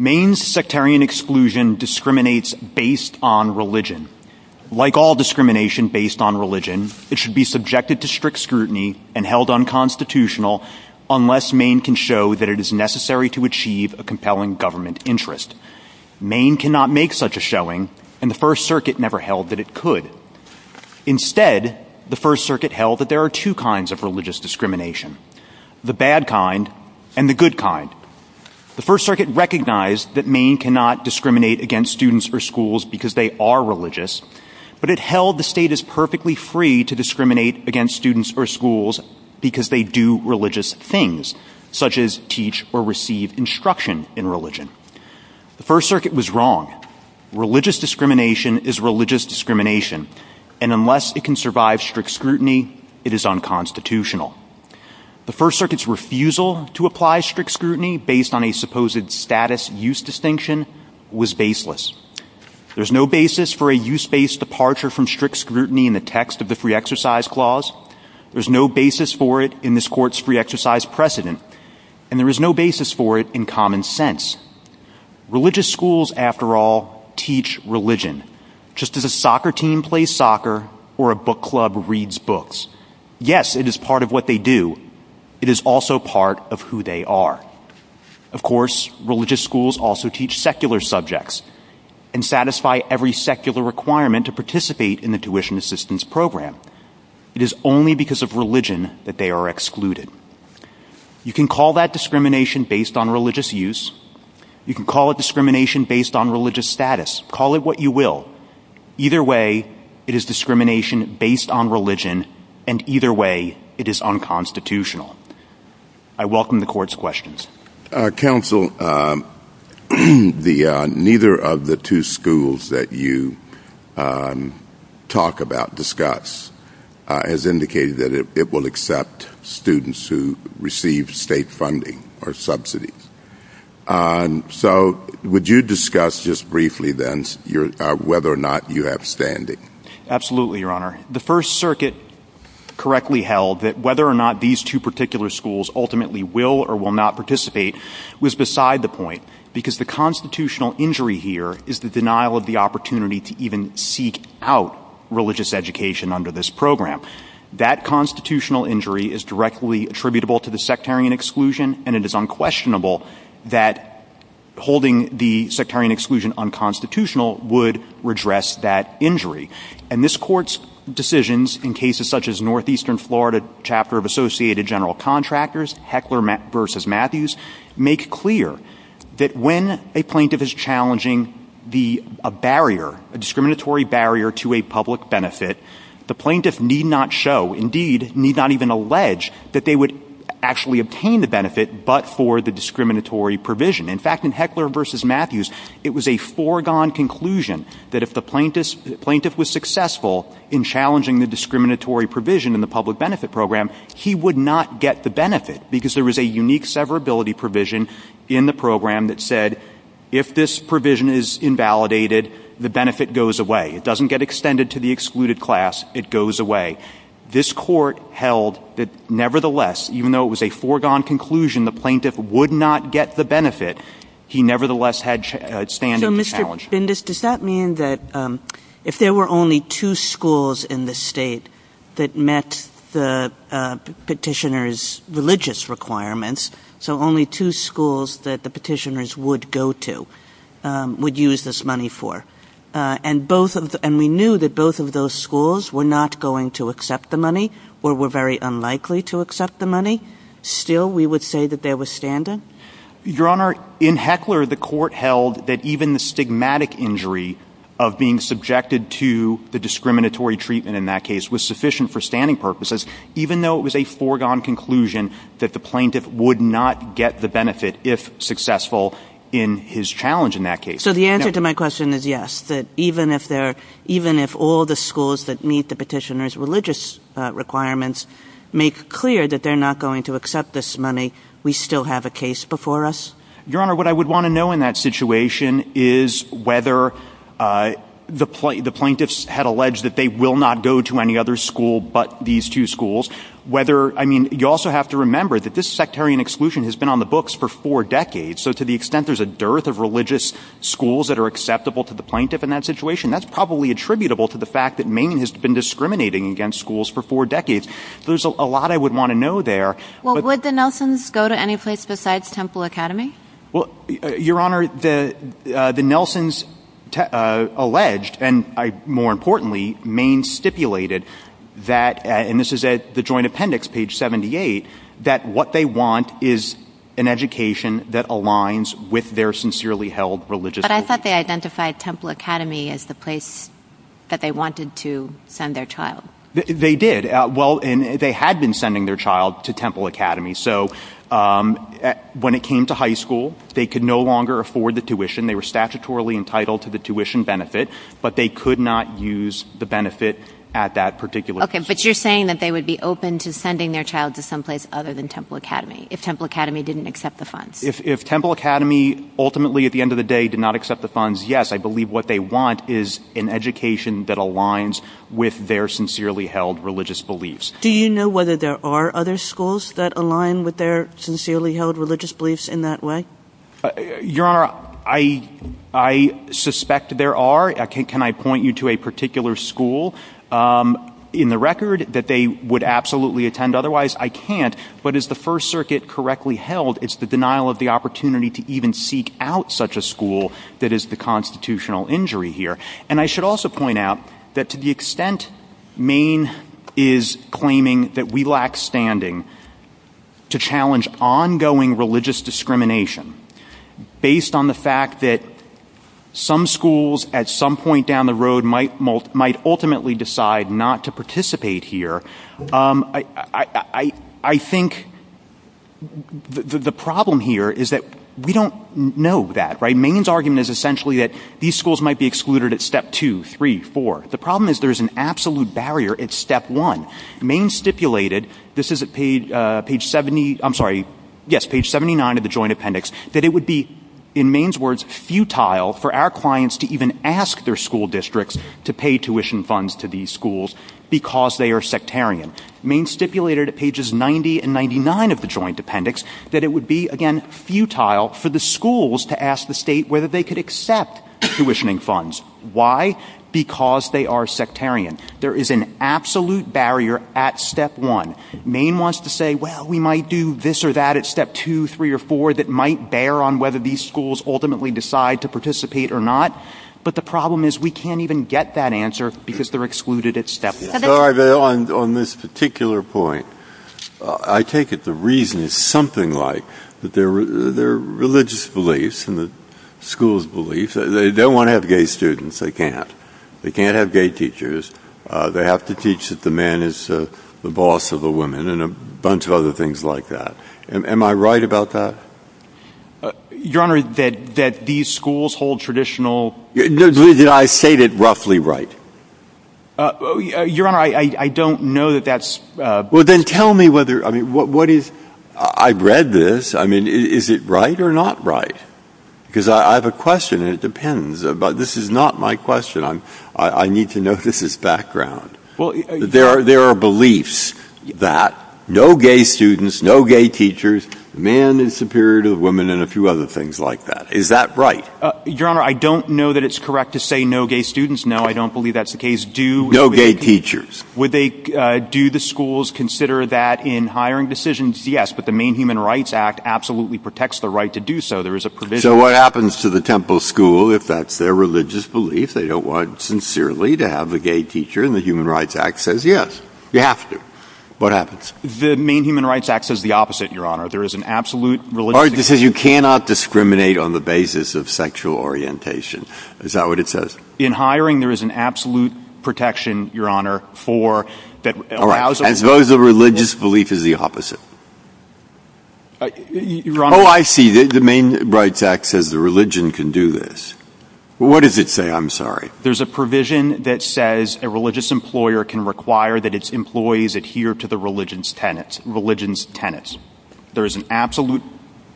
Mayne's sectarian exclusion discriminates based on religion. Like all discrimination based on religion, it should be subjected to strict scrutiny and held unconstitutional unless Mayne can show that it is necessary to achieve a compelling government interest. Mayne cannot make such a showing, and the First Circuit never held that it could. Instead, the First Circuit held that there are two kinds of religious discrimination, the bad kind and the good kind. The First Circuit recognized that Mayne cannot discriminate against students or schools because they are religious, but it held the state is perfectly free to discriminate against students or schools because they do religious things, such as teach or receive instruction in religion. The First Circuit was wrong. Religious discrimination is religious discrimination, and unless it can survive strict scrutiny, it is unconstitutional. The First Circuit's refusal to apply strict scrutiny based on a supposed status-use distinction was baseless. There is no basis for a use-based departure from strict scrutiny in the text of the Free Exercise Clause, there is no basis for it in this Court's Free Exercise Precedent, and there is no basis for it in common sense. Religious schools, after all, teach religion, just as a soccer team plays soccer or a book club reads books. Yes, it is part of what they do. It is also part of who they are. Of course, religious schools also teach secular subjects and satisfy every secular requirement to participate in the tuition assistance program. It is only because of religion that they are excluded. You can call that discrimination based on religious use. You can call it discrimination based on religious status. Call it what you will. Either way, it is discrimination based on religion, and either way, it is unconstitutional. I welcome the Court's questions. Counsel, neither of the two schools that you talk about, discuss, has indicated that it will accept students who receive state funding or subsidies. So, would you discuss just briefly, then, whether or not you have standing? Absolutely, Your Honor. The First Circuit correctly held that whether or not these two particular schools ultimately will or will not participate was beside the point, because the constitutional injury here is the denial of the opportunity to even seek out religious education under this program. That constitutional injury is directly attributable to the sectarian exclusion, and it is unquestionable that holding the sectarian exclusion unconstitutional would redress that injury. And this Court's decisions in cases such as Northeastern Florida Chapter of Associated General Contractors, Heckler v. Matthews, make clear that when a plaintiff is challenging a barrier, a discriminatory barrier to a public benefit, the plaintiff need not show, indeed, need not even allege, that they would actually obtain the benefit but for the discriminatory provision. In fact, in Heckler v. Matthews, it was a foregone conclusion that if the plaintiff was successful in challenging the discriminatory provision in the public benefit program, he would not get the benefit, because there was a unique severability provision in the program that said, if this provision is invalidated, the benefit goes away. It doesn't get extended to the excluded class. It goes away. This Court held that nevertheless, even though it was a foregone conclusion the plaintiff would not get the benefit, he nevertheless had standing to challenge it. Your Honor, does that mean that if there were only two schools in the state that met the petitioner's religious requirements, so only two schools that the petitioners would go to, would use this money for? And we knew that both of those schools were not going to accept the money or were very unlikely to accept the money. Still, we would say that there was standing? Your Honor, in Heckler, the Court held that even the stigmatic injury of being subjected to the discriminatory treatment in that case was sufficient for standing purposes, even though it was a foregone conclusion that the plaintiff would not get the benefit if successful in his challenge in that case. So the answer to my question is yes, that even if all the schools that meet the petitioner's religious requirements make clear that they're not going to accept this money, we still have a case before us? Your Honor, what I would want to know in that situation is whether the plaintiffs had alleged that they will not go to any other school but these two schools. You also have to remember that this sectarian exclusion has been on the books for four decades, so to the extent there's a dearth of religious schools that are acceptable to the plaintiff in that situation, that's probably attributable to the fact that Manning has been discriminating against schools for four decades. So there's a lot I would want to know there. Would the Nelsons go to any place besides Temple Academy? Your Honor, the Nelsons alleged, and more importantly, Maine stipulated, and this is at the Joint Appendix, page 78, that what they want is an education that aligns with their sincerely held religious beliefs. But I thought they identified Temple Academy as the place that they wanted to send their child. They did. Well, they had been sending their child to Temple Academy, so when it came to high school, they could no longer afford the tuition, they were statutorily entitled to the tuition benefit, but they could not use the benefit at that particular time. Okay, but you're saying that they would be open to sending their child to someplace other than Temple Academy if Temple Academy didn't accept the funds? If Temple Academy ultimately, at the end of the day, did not accept the funds, yes, I believe what they want is an education that aligns with their sincerely held religious beliefs. Do you know whether there are other schools that align with their sincerely held religious beliefs in that way? Your Honor, I suspect there are. Can I point you to a particular school in the record that they would absolutely attend? Otherwise, I can't, but as the First Circuit correctly held, it's the denial of the opportunity to even seek out such a school that is the constitutional injury here. And I should also point out that to the extent Maine is claiming that we lack standing to challenge ongoing religious discrimination based on the fact that some schools at some point down the road might ultimately decide not to participate here, I think the problem here is that we don't know that. Maine's argument is essentially that these schools might be excluded at step two, three, four. The problem is there is an absolute barrier at step one. Maine stipulated, this is at page 79 of the Joint Appendix, that it would be, in Maine's words, futile for our clients to even ask their school districts to pay tuition funds to these schools because they are sectarian. Maine stipulated at pages 90 and 99 of the Joint Appendix that it would be, again, futile for the schools to ask the state whether they could accept tuitioning funds. Why? Because they are sectarian. There is an absolute barrier at step one. Maine wants to say, well, we might do this or that at step two, three, or four that might bear on whether these schools ultimately decide to participate or not. But the problem is we can't even get that answer because they're excluded at step one. On this particular point, I take it the reason is something like their religious beliefs and the school's beliefs. They don't want to have gay students. They can't. They can't have gay teachers. They have to teach that the man is the boss of the woman and a bunch of other things like that. Am I right about that? Your Honor, that these schools hold traditional... I state it roughly right. Your Honor, I don't know that that's... Well, then tell me whether, I mean, what is... I've read this. I mean, is it right or not right? Because I have a question and it depends, but this is not my question. I need to notice this background. There are beliefs that no gay students, no gay teachers, man is superior to woman and a few other things like that. Is that right? Your Honor, I don't know that it's correct to say no gay students. No, I don't believe that's the case. No gay teachers. Do the schools consider that in hiring decisions? Yes. But the Main Human Rights Act absolutely protects the right to do so. There is a provision... So what happens to the temple school if that's their religious belief? They don't want sincerely to have a gay teacher and the Human Rights Act says yes. You have to. What happens? The Main Human Rights Act says the opposite, Your Honor. There is an absolute religious... All right, it says you cannot discriminate on the basis of sexual orientation. Is that what it says? In hiring, there is an absolute protection, Your Honor, for... All right, as though the religious belief is the opposite. Your Honor... Oh, I see. The Main Human Rights Act says the religion can do this. What does it say? I'm sorry. There's a provision that says a religious employer can require that its employees adhere to the religion's tenets. There is an absolute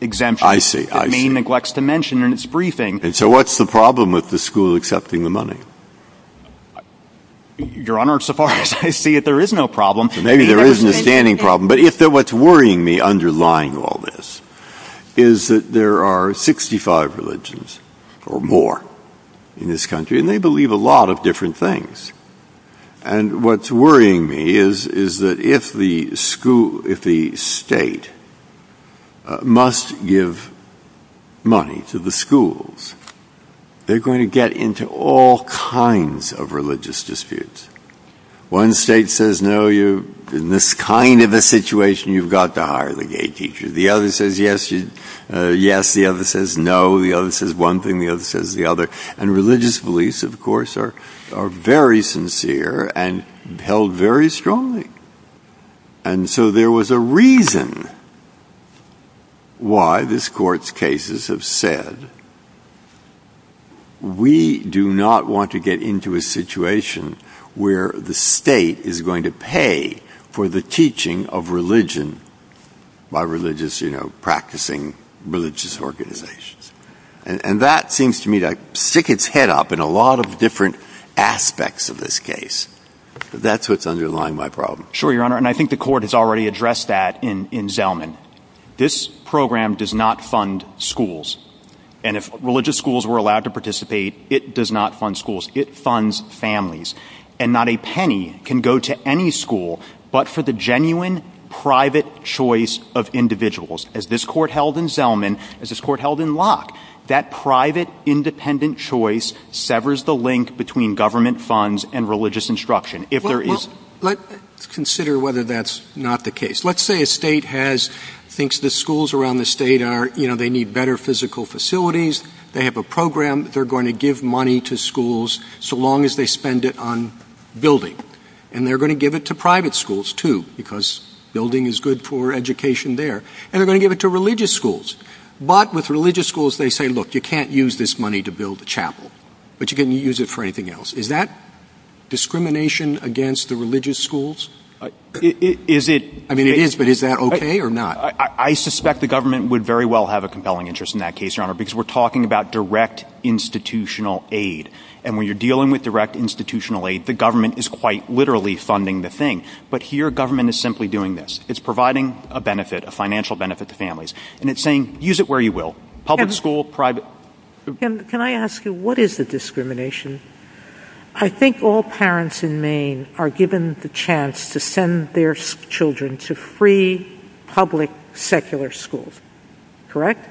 exemption. I see. The Maine neglects to mention in its briefing... And so what's the problem with the school accepting the money? Your Honor, so far as I see it, there is no problem. Maybe there isn't a standing problem. But what's worrying me underlying all this is that there are 65 religions or more in this country, and they believe a lot of different things. And what's worrying me is that if the state must give money to the schools, they're going to get into all kinds of religious disputes. One state says, no, in this kind of a situation, you've got to hire the gay teacher. The other says, yes, the other says no. The other says one thing, the other says the other. And religious beliefs, of course, are very sincere and held very strongly. And so there was a reason why this Court's cases have said, we do not want to get into a situation where the state is going to pay for the teaching of religion by religious, you know, practicing religious organizations. And that seems to me to stick its head up in a lot of different aspects of this case. That's what's underlying my problem. Sure, Your Honor, and I think the Court has already addressed that in Zelman. This program does not fund schools. And if religious schools were allowed to participate, it does not fund schools. It funds families. And not a penny can go to any school but for the genuine private choice of individuals. As this Court held in Zelman, as this Court held in Locke, that private, independent choice severs the link between government funds and religious instruction. Well, let's consider whether that's not the case. Let's say a state has, thinks the schools around the state are, you know, they need better physical facilities. They have a program. They're going to give money to schools so long as they spend it on building. And they're going to give it to private schools, too, because building is good for education there. And they're going to give it to religious schools. But with religious schools, they say, look, you can't use this money to build a chapel. But you can use it for anything else. Is that discrimination against the religious schools? Is it? I mean, it is, but is that okay or not? I suspect the government would very well have a compelling interest in that case, Your Honor, because we're talking about direct institutional aid. And when you're dealing with direct institutional aid, the government is quite literally funding the thing. But here, government is simply doing this. It's providing a benefit, a financial benefit to families. And it's saying, use it where you will, public school, private. Can I ask you, what is the discrimination? I think all parents in Maine are given the chance to send their children to free public secular schools. Correct?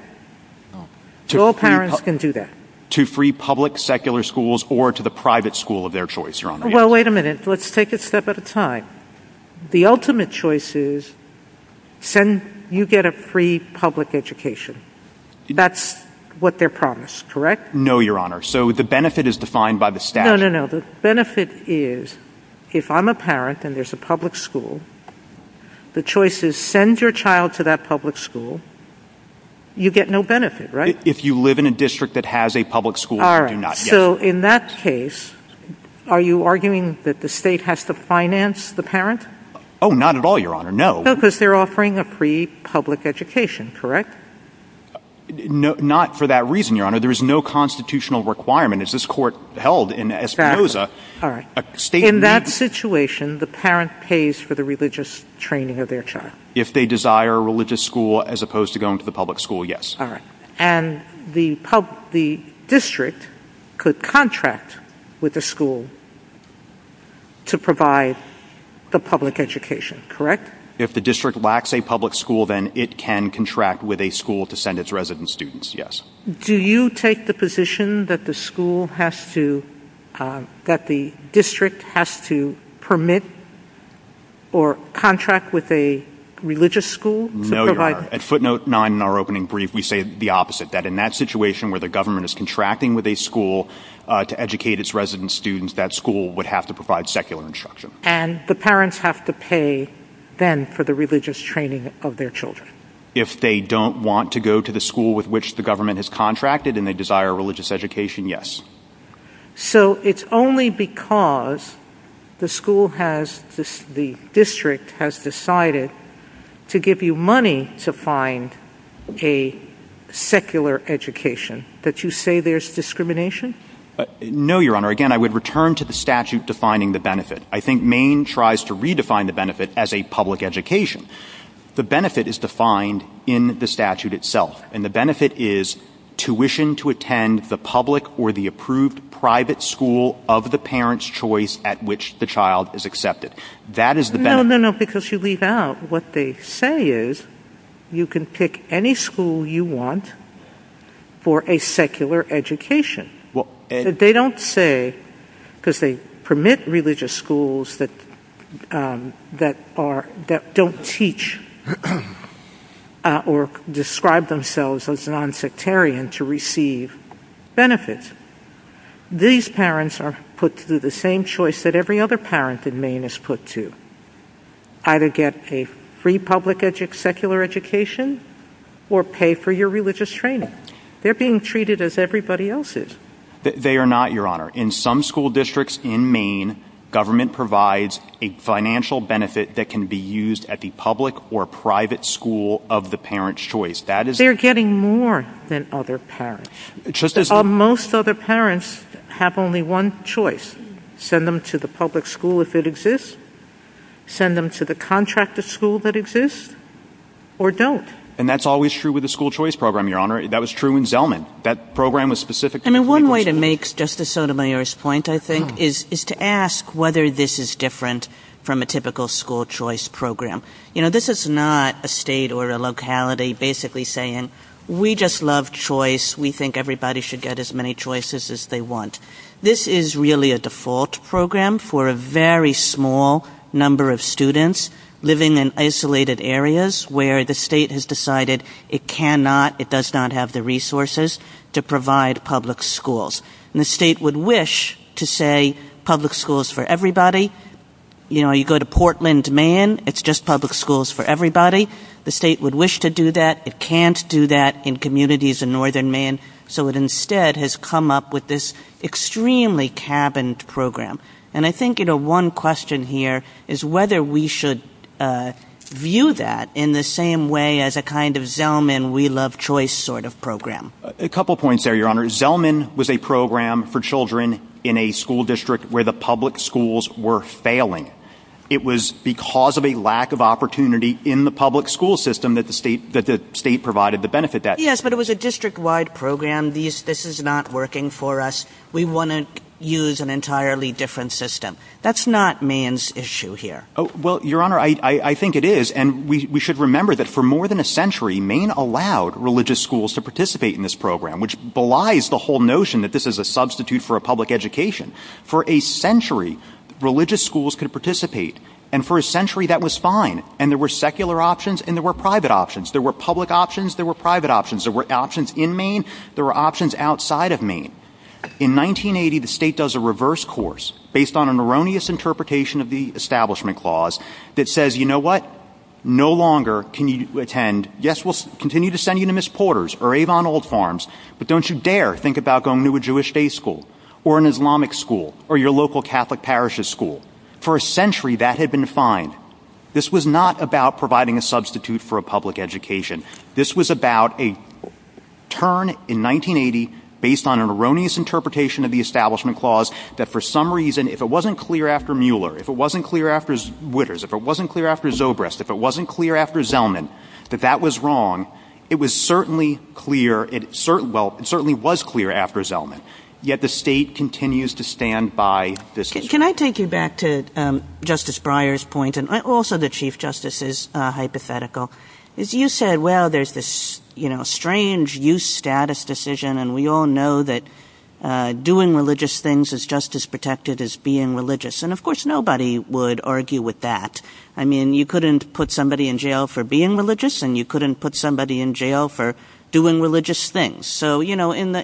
All parents can do that. To free public secular schools or to the private school of their choice, Your Honor. Well, wait a minute. Let's take it a step at a time. The ultimate choice is you get a free public education. That's what they're promised, correct? No, Your Honor. So the benefit is defined by the statute. No, no, no. The benefit is if I'm a parent and there's a public school, the choice is send your child to that public school. You get no benefit, right? If you live in a district that has a public school, you do not. So in that case, are you arguing that the state has to finance the parent? Oh, not at all, Your Honor. No. No, because they're offering a free public education, correct? Not for that reason, Your Honor. There is no constitutional requirement as this court held in Espinoza. In that situation, the parent pays for the religious training of their child. If they desire a religious school as opposed to going to the public school, yes. All right. And the district could contract with the school to provide the public education, correct? If the district lacks a public school, then it can contract with a school to send its resident students, yes. Do you take the position that the district has to permit or contract with a religious school? No, Your Honor. At footnote nine in our opening brief, we say the opposite, that in that situation where the government is contracting with a school to educate its resident students, that school would have to provide secular instruction. And the parents have to pay then for the religious training of their children? If they don't want to go to the school with which the government has contracted and they desire religious education, yes. So it's only because the school has, the district has decided to give you money to find a secular education that you say there's discrimination? No, Your Honor. Again, I would return to the statute defining the benefit. I think Maine tries to redefine the benefit as a public education. The benefit is defined in the statute itself. And the benefit is tuition to attend the public or the approved private school of the parent's choice at which the child is accepted. That is the benefit. No, no, no, because you leave out what they say is you can pick any school you want for a secular education. They don't say, because they permit religious schools that don't teach or describe themselves as non-sectarian to receive benefits. These parents are put through the same choice that every other parent in Maine is put through. Either get a free public secular education or pay for your religious training. They're being treated as everybody else is. They are not, Your Honor. In some school districts in Maine, government provides a financial benefit that can be used at the public or private school of the parent's choice. They're getting more than other parents. Most other parents have only one choice. Send them to the public school if it exists, send them to the contracted school that exists, or don't. And that's always true with the school choice program, Your Honor. That was true in Zelman. That program was specific to... And one way to make Justice Sotomayor's point, I think, is to ask whether this is different from a typical school choice program. You know, this is not a state or a locality basically saying, we just love choice. We think everybody should get as many choices as they want. This is really a default program for a very small number of students living in isolated areas where the state has decided it cannot, it does not have the resources to provide public schools. And the state would wish to say public schools for everybody. You know, you go to Portland, Maine, it's just public schools for everybody. The state would wish to do that. It can't do that in communities in northern Maine. So it instead has come up with this extremely cabined program. And I think, you know, one question here is whether we should view that in the same way as a kind of Zelman, we love choice sort of program. A couple points there, Your Honor. Zelman was a program for children in a school district where the public schools were failing. It was because of a lack of opportunity in the public school system that the state provided the benefit. Yes, but it was a district-wide program. This is not working for us. We want to use an entirely different system. That's not Maine's issue here. Well, Your Honor, I think it is. And we should remember that for more than a century, Maine allowed religious schools to participate in this program, which belies the whole notion that this is a substitute for a public education. For a century, religious schools could participate. And for a century, that was fine. And there were secular options and there were private options. There were public options. There were private options. There were options in Maine. There were options outside of Maine. In 1980, the state does a reverse course based on an erroneous interpretation of the Establishment Clause that says, you know what? No longer can you attend, yes, we'll continue to send you to Miss Porter's or Avon Old Farms, but don't you dare think about going to a Jewish faith school or an Islamic school or your local Catholic parish's school. For a century, that had been fine. This was not about providing a substitute for a public education. This was about a turn in 1980 based on an erroneous interpretation of the Establishment Clause that for some reason, if it wasn't clear after Mueller, if it wasn't clear after Witters, if it wasn't clear after Zobrist, if it wasn't clear after Zellman, that that was wrong. It was certainly clear, well, it certainly was clear after Zellman. Yet the state continues to stand by this case. Can I take you back to Justice Breyer's point and also the Chief Justice's hypothetical? You said, well, there's this strange use status decision and we all know that doing religious things is just as protected as being religious and of course, nobody would argue with that. I mean, you couldn't put somebody in jail for being religious and you couldn't put somebody in jail for doing religious things. Nobody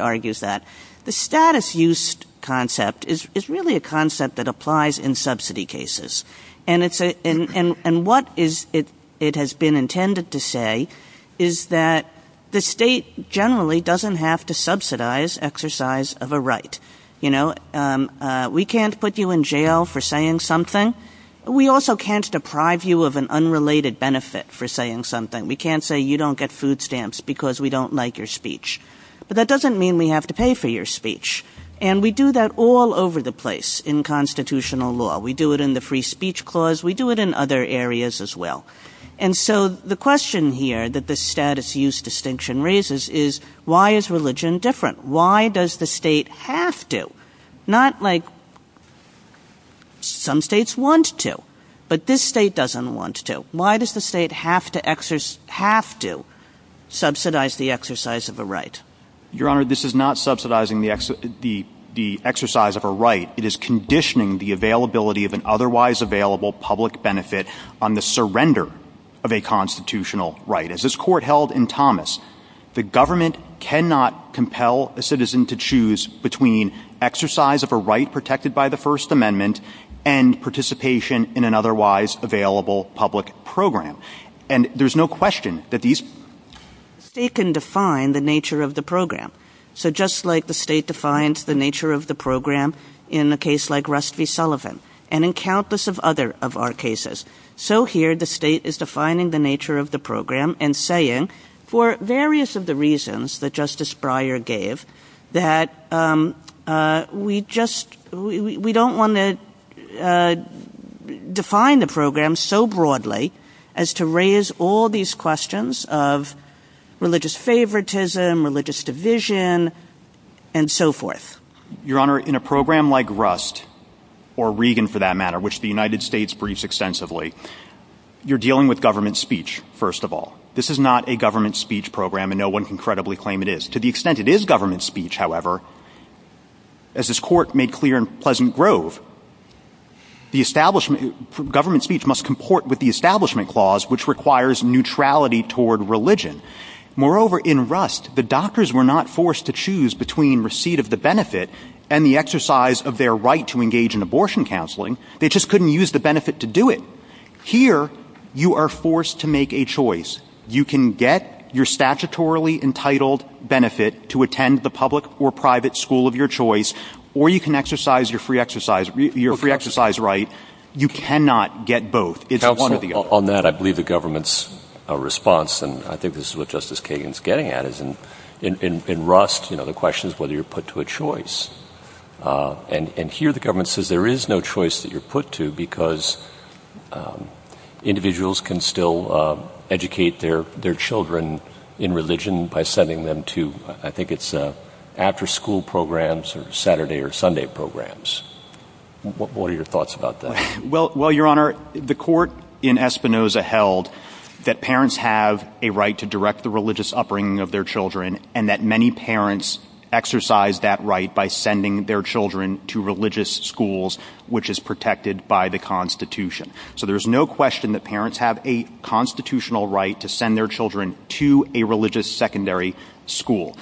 argues that. The status use concept is really a concept that applies in subsidy cases and what it has been intended to say is that the state generally doesn't have to subsidize exercise of a right. We can't put you in jail for saying something. We also can't deprive you of an unrelated benefit for saying something. We can't say you don't get food stamps because we don't like your speech. But that doesn't mean we have to pay for your speech and we do that all over the place in constitutional law. We do it in the free speech clause. We do it in other areas as well. And so the question here that the status use distinction raises is why is religion different? Why does the state have to? Not like some states want to but this state doesn't want to. Why does the state have to subsidize the exercise of a right? Your Honor, this is not subsidizing the exercise of a right. It is conditioning the availability of an otherwise available public benefit on the surrender of a constitutional right. As this court held in Thomas, the government cannot compel a citizen to choose between exercise of a right protected by the First Amendment and participation in an otherwise available public program. And there's no question that these... The state can define the nature of the program. So just like the state defines the nature of the program in a case like Rust v. Sullivan and in countless of other of our cases, so here the state is defining the nature of the program and saying for various of the reasons that Justice Breyer gave that we just... We don't want to define the program so broadly as to raise all these questions of religious favoritism, religious division and so forth. Your Honor, in a program like Rust or Regan for that matter, which the United States briefs extensively, you're dealing with government speech, first of all. This is not a government speech program and no one can credibly claim it is. To the extent it is government speech, however, as this court made clear in Pleasant Grove, the establishment... Government speech must comport with the establishment clause which requires neutrality toward religion. Moreover, in Rust, the doctors were not forced to choose between receipt of the benefit and the exercise of their right to engage in abortion counseling. They just couldn't use the benefit to do it. Here, you are forced to make a choice. You can get your statutorily entitled benefit to attend the public or private school of your choice or you can exercise your free exercise right. You cannot get both. On that, I believe the government's response, and I think this is what Justice Kagan is getting at, is in Rust, the question is whether you're put to a choice. Here, the government says there is no choice that you're put to because individuals can still educate their children in religion by sending them to, I think it's after school programs or Saturday or Sunday programs. What are your thoughts about that? Well, Your Honor, the court in Espinoza held that parents have a right to direct the religious upbringing of their children and that many parents exercise that right by sending their children to religious schools which is protected by the Constitution. So there's no question that parents have a constitutional right to send their children to a religious secondary school.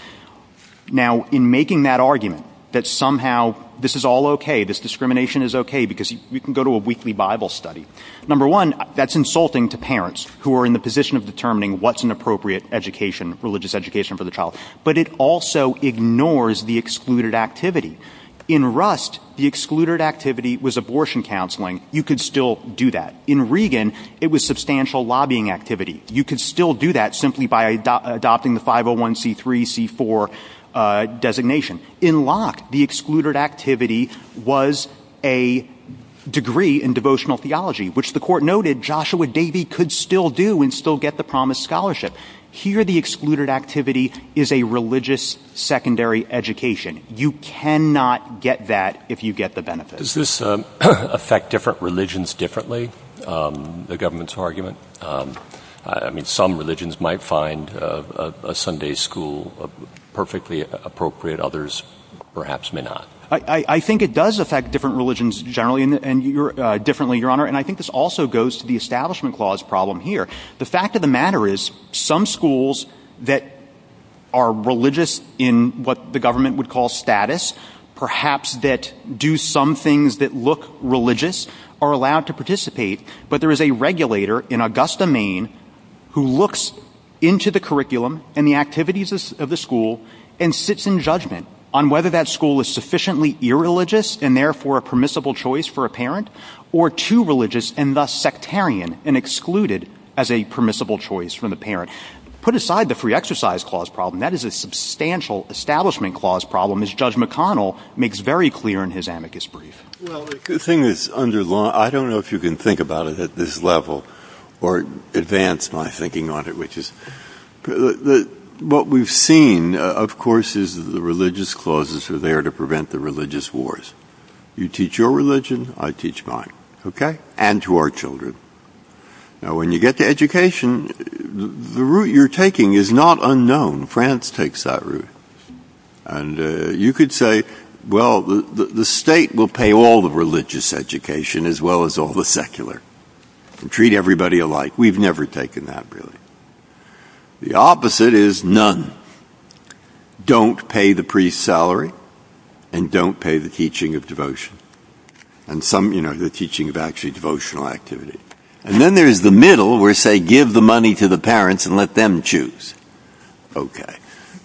Now, in making that argument that somehow this is all okay, this discrimination is okay because you can go to a weekly Bible study, number one, that's insulting to parents who are in the position of determining what's an appropriate religious education for the child. But it also ignores the excluded activity. In Rust, the excluded activity was abortion counseling. You could still do that. In Regan, it was substantial lobbying activity. You could still do that simply by adopting the 501c3c4 designation. In Locke, the excluded activity was a degree in devotional theology, which the court noted Joshua Davy could still do and still get the promised scholarship. Here, the excluded activity is a religious secondary education. You cannot get that if you get the benefit. Does this affect different religions differently, the government's argument? I mean, some religions might find a Sunday school perfectly appropriate. Others perhaps may not. I think it does affect different religions generally and differently, Your Honor. And I think this also goes to the Establishment Clause problem here. The fact of the matter is some schools that are religious in what the government would call status, perhaps that do some things that look religious, are allowed to participate. But there is a regulator in Augusta, Maine, who looks into the curriculum and the activities of the school and sits in judgment on whether that school is sufficiently irreligious and therefore a permissible choice for a parent or too religious and thus sectarian and excluded as a permissible choice for the parent. Put aside the Free Exercise Clause problem. That is a substantial Establishment Clause problem, as Judge McConnell makes very clear in his amicus brief. Well, I don't know if you can think about it at this level or advance my thinking on it. What we've seen, of course, is the religious clauses are there to prevent the religious wars. You teach your religion, I teach mine. And to our children. When you get to education, the route you're taking is not unknown. France takes that route. And you could say, well, the state will pay all the religious education as well as all the secular. And treat everybody alike. We've never taken that, really. The opposite is none. Don't pay the priest's salary. And don't pay the teaching of devotion. And some, you know, the teaching of actually devotional activity. And then there's the middle, where say, give the money to the parents and let them choose. Okay.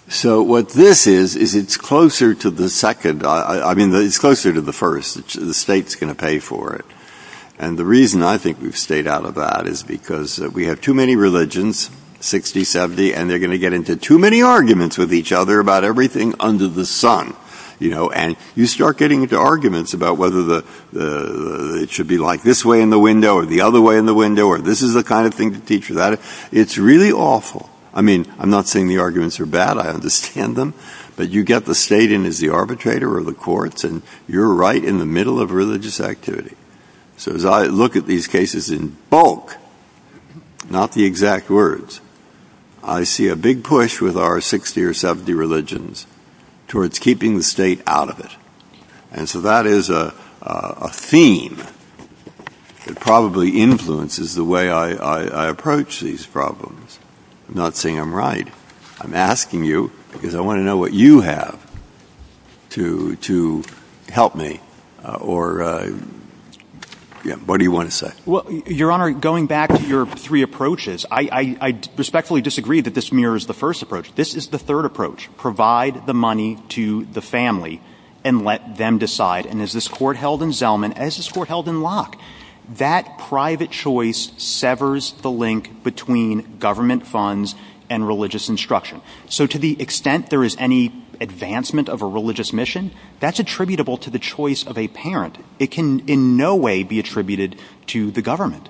So what this is, is it's closer to the second. I mean, it's closer to the first. The state's going to pay for it. And the reason I think we've stayed out of that is because we have too many religions. 60, 70. And they're going to get into too many arguments with each other about everything under the sun. And you start getting into arguments about whether it should be like this way in the window or the other way in the window. Or this is the kind of thing to teach without it. It's really awful. I mean, I'm not saying the arguments are bad. I understand them. But you get the state in as the arbitrator or the courts. And you're right in the middle of religious activity. So as I look at these cases in bulk, not the exact words, I see a big push with our 60 or 70 religions towards keeping the state out of it. And so that is a theme that probably influences the way I approach these problems. I'm not saying I'm right. I'm asking you because I want to know what you have to help me. Or what do you want to say? Well, Your Honor, going back to your three approaches, I respectfully disagree that this mirrors the first approach. This is the third approach. Provide the money to the family and let them decide. And as this court held in Zelman, as this court held in Locke, that private choice severs the link between government funds and religious instruction. So to the extent there is any advancement of a religious mission, that's attributable to the choice of a parent. It can in no way be attributed to the government.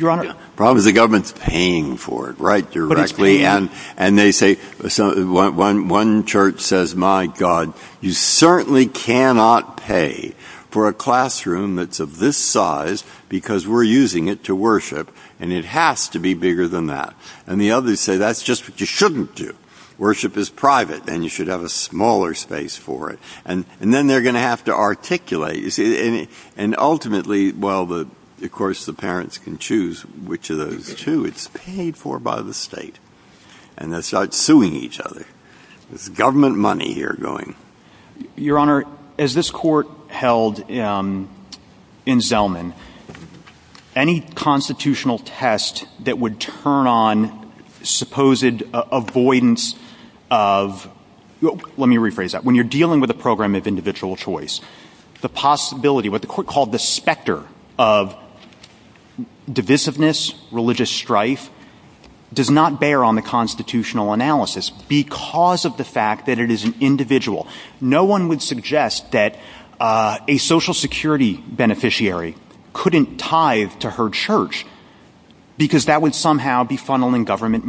Your Honor. The problem is the government's paying for it, right, directly. But it's paying. And they say, one church says, my God, you certainly cannot pay for a classroom that's of this size because we're using it to worship. And it has to be bigger than that. And the others say, that's just what you shouldn't do. Worship is private and you should have a smaller space for it. And then they're going to have to articulate. And ultimately, well, of course, the parents can choose which of those two is paid for by the state. And they start suing each other. There's government money here going. Your Honor, as this court held in Zelman, any constitutional test that would turn on supposed avoidance of, let me rephrase that. When you're dealing with a program of individual choice, the possibility, what the court called the specter of divisiveness, religious strife, does not bear on the constitutional analysis because of the fact that it is an individual. No one would suggest that a Social Security beneficiary couldn't tithe to her church because that would somehow be funneling government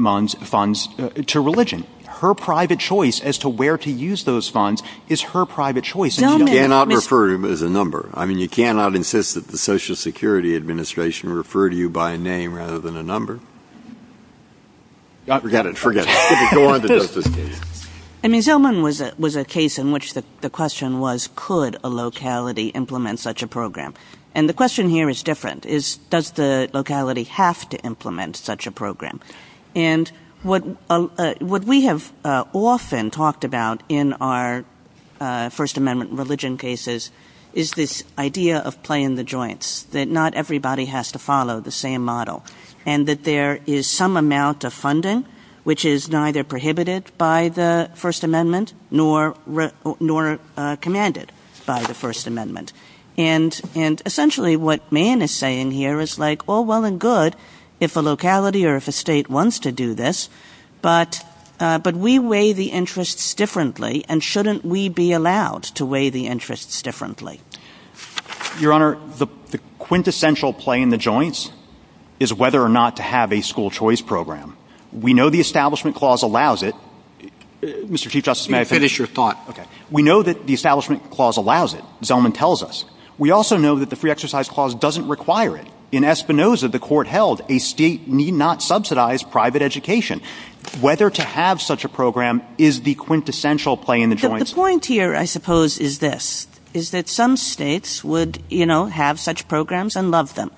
funds to religion. Her private choice as to where to use those funds is her private choice. You cannot refer to them as a number. I mean, you cannot insist that the Social Security Administration refer to you by name rather than a number. Forget it. I mean, Zelman was a case in which the question was, could a locality implement such a program? And the question here is different. Does the locality have to implement such a program? And what we have often talked about in our First Amendment religion cases is this idea of play in the joints, that not everybody has to follow the same model and that there is some amount of funding which is neither prohibited by the First Amendment nor commanded by the First Amendment. And essentially what Mann is saying here is like, oh, well and good if a locality or if a state wants to do this, but we weigh the interests differently and shouldn't we be allowed to weigh the interests differently? Your Honor, the quintessential play in the joints is whether or not to have a school choice program. We know the Establishment Clause allows it. Mr. Chief Justice, may I finish? Finish your thought. Okay. We know that the Establishment Clause allows it, Zelman tells us. We also know that the Free Exercise Clause doesn't require it. In Espinoza, the court held a state need not subsidize private education. Whether to have such a program is the quintessential play in the joints. The point here, I suppose, is this, is that some states would, you know, have such programs and love them.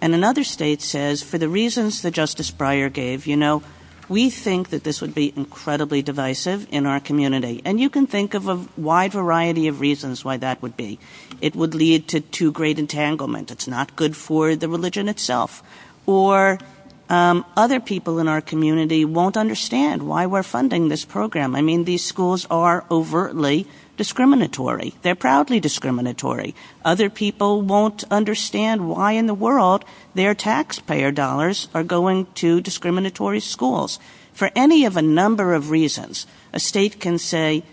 And another state says for the reasons that Justice Breyer gave, you know, we think that this would be incredibly divisive in our community. And you can think of a wide variety of reasons why that would be. It would lead to great entanglement. It's not good for the religion itself. Or other people in our community won't understand why we're funding this program. I mean, these schools are overtly discriminatory. They're proudly discriminatory. Other people won't understand why in the world their taxpayer dollars are going to discriminatory schools. For any of a number of reasons, a state can say,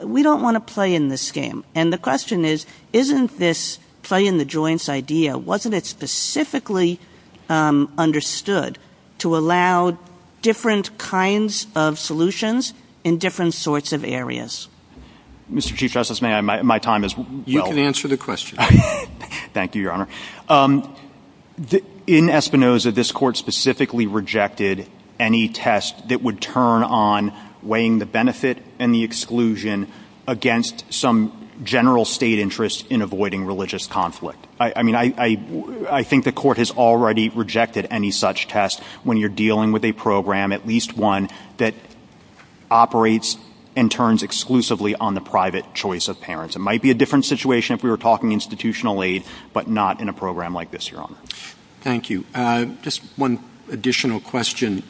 we don't want to play in this game. And the question is, isn't this play in the joints idea, wasn't it specifically understood to allow different kinds of solutions in different sorts of areas? Mr. Chief Justice, may I, my time is well. You can answer the question. Thank you, Your Honor. In Espinoza, this court specifically rejected any test that would turn on weighing the benefit and the exclusion against some general state interest in avoiding religious conflict. I mean, I think the court has already rejected any such test when you're dealing with a program, at least one, that operates and turns exclusively on the private choice of parents. It might be a different situation if we were talking institutional aid, but not in a program like this, Your Honor. Thank you. Just one additional question,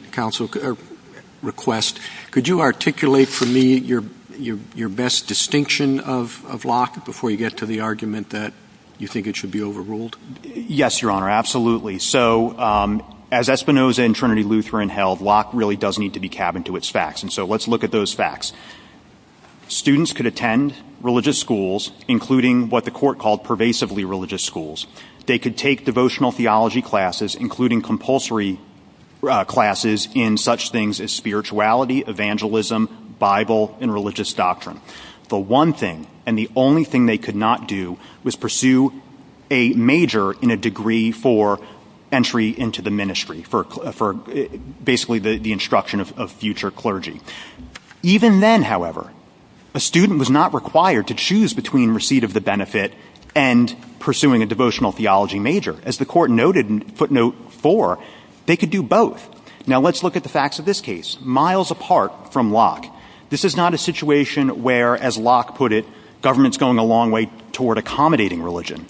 request. Could you articulate for me your best distinction of Locke before you get to the argument that you think it should be overruled? Yes, Your Honor, absolutely. So, as Espinoza and Trinity Lutheran held, Locke really does need to be cabined to its facts. And so let's look at those facts. Students could attend religious schools, including what the court called pervasively religious schools. They could take devotional theology classes, including compulsory classes in such things as spirituality, evangelism, Bible, and religious doctrine. The one thing, and the only thing they could not do, was pursue a major in a degree for entry into the ministry, for basically the instruction of future clergy. Even then, however, a student was not required to choose between receipt of the benefit and pursuing a devotional theology major. As the court noted in footnote four, they could do both. Now let's look at the facts of this case, miles apart from Locke. This is not a situation where, as Locke put it, government's going a long way toward accommodating religion.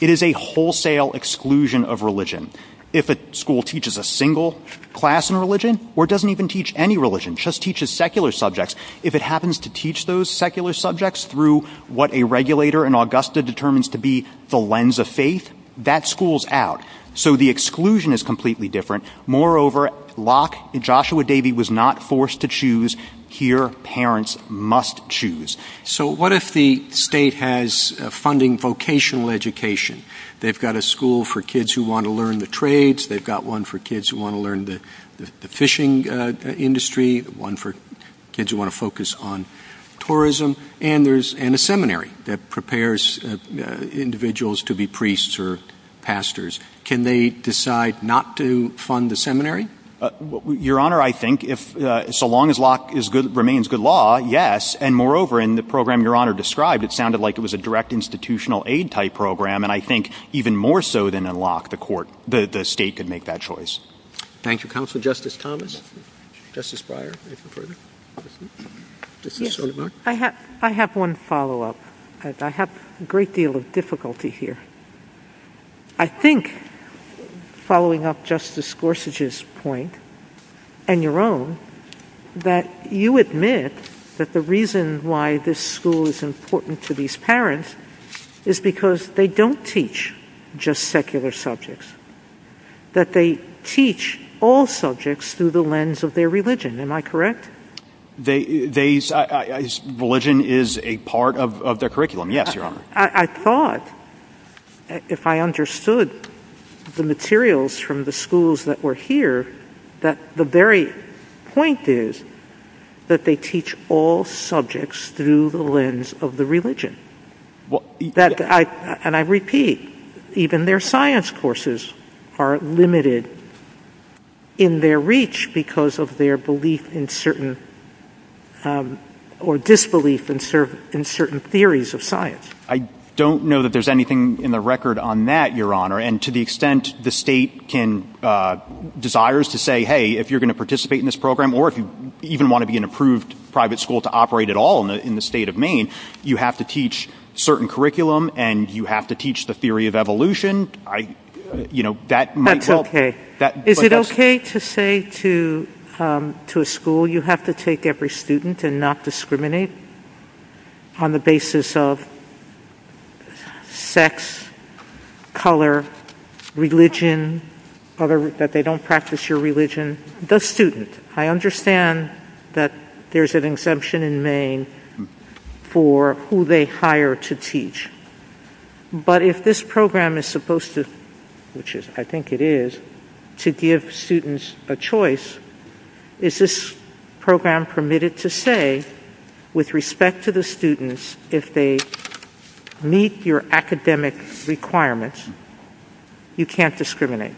It is a wholesale exclusion of religion. If a school teaches a single class in religion, or doesn't even teach any religion, just teaches secular subjects, if it happens to teach those secular subjects through what a regulator in Augusta determines to be the lens of faith, that school's out. So the exclusion is completely different. Moreover, Locke and Joshua Davey was not forced to choose. Here, parents must choose. So what if the state has funding vocational education? They've got a school for kids who want to learn the trades. They've got one for kids who want to learn the fishing industry. One for kids who want to focus on tourism. And a seminary that prepares individuals to be priests or pastors. Can they decide not to fund the seminary? Your Honor, I think, so long as Locke remains good law, yes. And moreover, in the program Your Honor described, it sounded like it was a direct institutional aid type program. And I think even more so than in Locke, the state could make that choice. Thank you, Counsel. Justice Thomas? Justice Breyer? I have one follow-up. I have a great deal of difficulty here. I think, following up Justice Gorsuch's point, and your own, that you admit that the reason why this school is important to these parents is because they don't teach just secular subjects. That they teach all subjects through the lens of their religion. Am I correct? Religion is a part of the curriculum, yes, Your Honor. I thought, if I understood the materials from the schools that were here, that the very point is that they teach all subjects through the lens of the religion. And I repeat, even their science courses are limited in their reach because of their belief or disbelief in certain theories of science. I don't know that there's anything in the record on that, Your Honor. And to the extent the state desires to say, hey, if you're going to participate in this program, or if you even want to be an approved private school to operate at all in the state of Maine, you have to teach certain curriculum and you have to teach the theory of evolution. That's okay. Is it okay to say to a school, you have to take every student and not discriminate on the basis of sex, color, religion, that they don't practice your religion? The student. I understand that there's an exemption in Maine for who they hire to teach. But if this program is supposed to, which I think it is, to give students a choice, is this program permitted to say, with respect to the students, if they meet your academic requirements, you can't discriminate?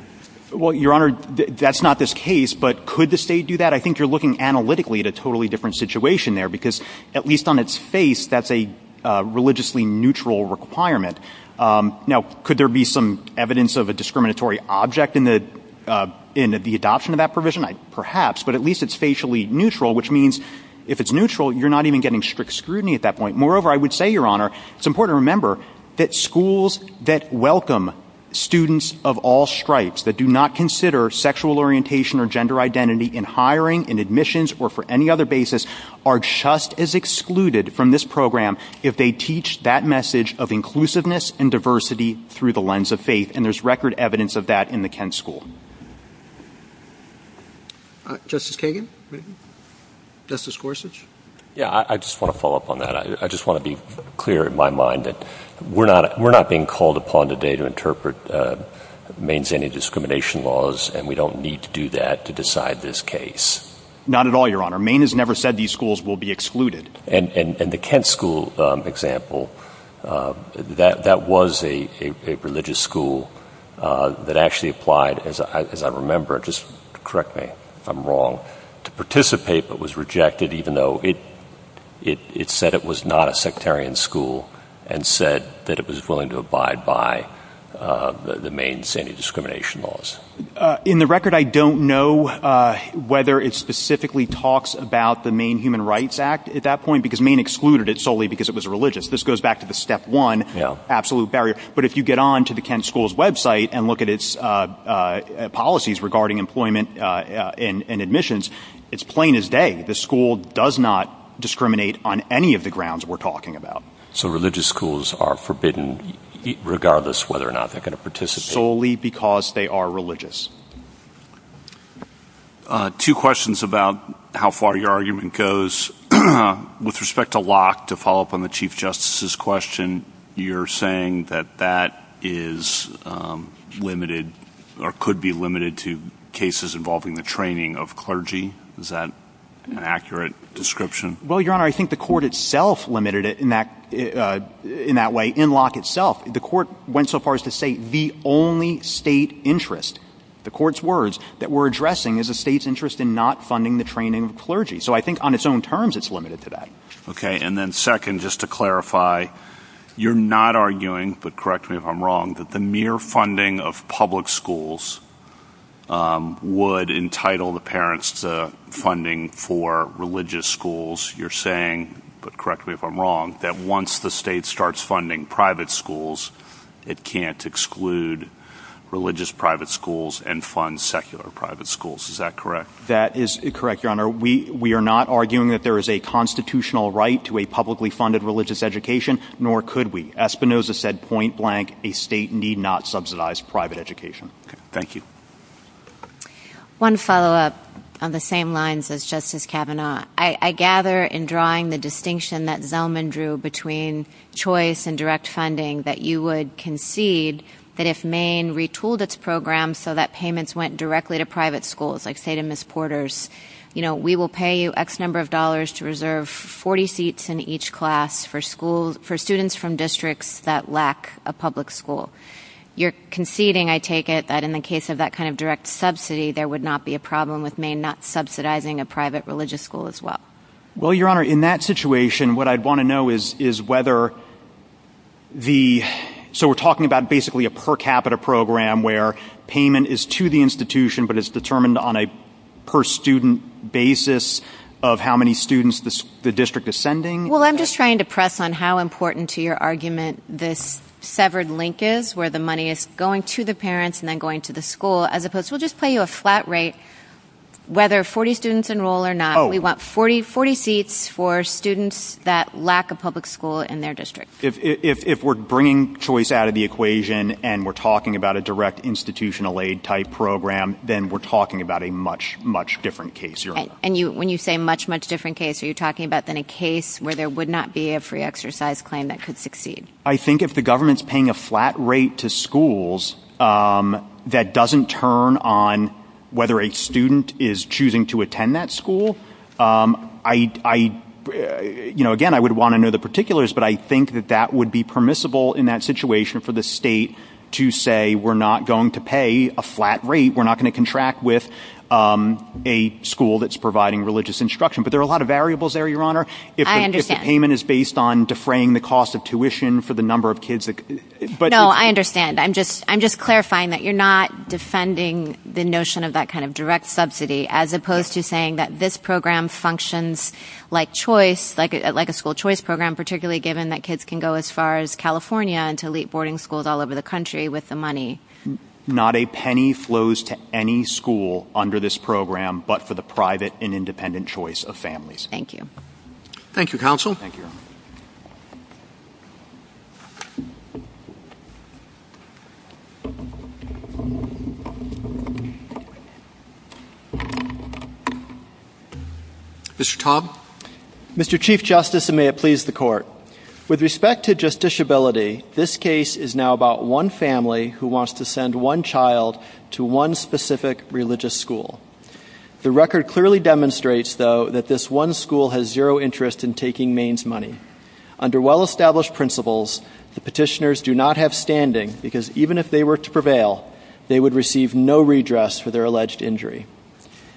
Well, Your Honor, that's not this case. But could the state do that? I think you're looking analytically at a totally different situation there because at least on its face, that's a religiously neutral requirement. Now, could there be some evidence of a discriminatory object in the adoption of that provision? Perhaps. But at least it's facially neutral, which means if it's neutral, you're not even getting strict scrutiny at that point. Moreover, I would say, Your Honor, it's important to remember that schools that welcome students of all stripes, that do not consider sexual orientation or gender identity in hiring, in admissions, or for any other basis, are just as excluded from this program if they teach that message of inclusiveness and diversity through the lens of faith. And there's record evidence of that in the Kent School. Justice Kagan? Justice Gorsuch? Yeah, I just want to follow up on that. I just want to be clear in my mind that we're not being called upon today to interpret Maine's anti-discrimination laws, and we don't need to do that to decide this case. Not at all, Your Honor. Maine has never said these schools will be excluded. And the Kent School example, that was a religious school that actually applied, as I remember, just correct me if I'm wrong, to participate but was rejected even though it said it was not a sectarian school and said that it was willing to abide by the Maine's anti-discrimination laws. In the record, I don't know whether it specifically talks about the Maine Human Rights Act at that point because Maine excluded it solely because it was religious. This goes back to the step one absolute barrier. But if you get on to the Kent School's website and look at its policies regarding employment and admissions, it's plain as day. The school does not discriminate on any of the grounds we're talking about. So religious schools are forbidden regardless whether or not they're going to participate. Solely because they are religious. Two questions about how far your argument goes. With respect to Locke, to follow up on the Chief Justice's question, you're saying that that is limited or could be limited to cases involving the training of clergy. Is that an accurate description? Well, Your Honor, I think the court itself limited it in that way in Locke itself. The court went so far as to say the only state interest, the court's words, that we're addressing is the state's interest in not funding the training of clergy. So I think on its own terms, it's limited to that. Okay. And then second, just to clarify, you're not arguing, but correct me if I'm wrong, that the mere funding of public schools would entitle the parents to funding for religious schools. You're saying, but correct me if I'm wrong, that once the state starts funding private schools, it can't exclude religious private schools and fund secular private schools. Is that correct? That is correct, Your Honor. We are not arguing that there is a constitutional right to a publicly funded religious education, nor could we. Espinoza said, point blank, a state need not subsidize private education. Okay. Thank you. One follow-up on the same lines as Justice Kavanaugh. I gather in drawing the distinction that Zellman drew between choice and direct funding, that you would concede that if Maine retooled its program so that payments went directly to private schools, like say to Ms. Porter's, you know, we will pay you X number of dollars to reserve 40 seats in each class for students from districts that lack a public school. You're conceding, I take it, that in the case of that kind of direct subsidy, there would not be a problem with Maine not subsidizing a private religious school as well. Well, Your Honor, in that situation, what I'd want to know is whether the, so we're talking about basically a per capita program where payment is to the institution, but it's determined on a per student basis of how many students the district is sending. Well, I'm just trying to press on how important to your argument this severed link is, where the money is going to the parents and then going to the school, as opposed to we'll just pay you a flat rate whether 40 students enroll or not. We want 40 seats for students that lack a public school in their district. If we're bringing choice out of the equation and we're talking about a direct institutional aid type program, then we're talking about a much, much different case, Your Honor. And when you say much, much different case, are you talking about then a case where there would not be a free exercise claim that could succeed? I think if the government's paying a flat rate to schools, that doesn't turn on whether a student is choosing to attend that school. I, you know, again, I would want to know the particulars, but I think that that would be permissible in that situation for the state to say, we're not going to pay a flat rate. We're not going to contract with a school that's providing religious instruction. But there are a lot of variables there, Your Honor. I understand. If the payment is based on defraying the cost of tuition for the number of kids. No, I understand. I'm just clarifying that you're not defending the notion of that kind of direct subsidy, as opposed to saying that this program functions like choice, like a school choice program, particularly given that kids can go as far as California and to elite boarding schools all over the country with the money. Not a penny flows to any school under this program, but for the private and independent choice of families. Thank you. Thank you, Counsel. Thank you, Your Honor. Mr. Cobb. Mr. Chief Justice, and may it please the Court. With respect to justiciability, this case is now about one family who wants to send one child to one specific religious school. The record clearly demonstrates, though, that this one school has zero interest in taking Maine's money. Under well-established principles, the petitioners do not have standing, because even if they were to prevail, they would receive no redress for their alleged injury.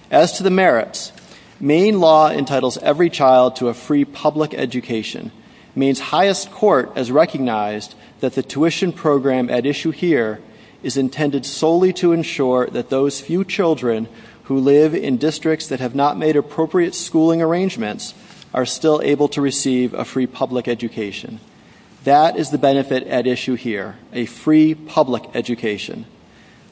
As to the merits, Maine law entitles every child to a free public education. Maine's highest court has recognized that the tuition program at issue here is intended solely to ensure that those few children who live in districts that have not made appropriate schooling arrangements are still able to receive a free public education. That is the benefit at issue here, a free public education.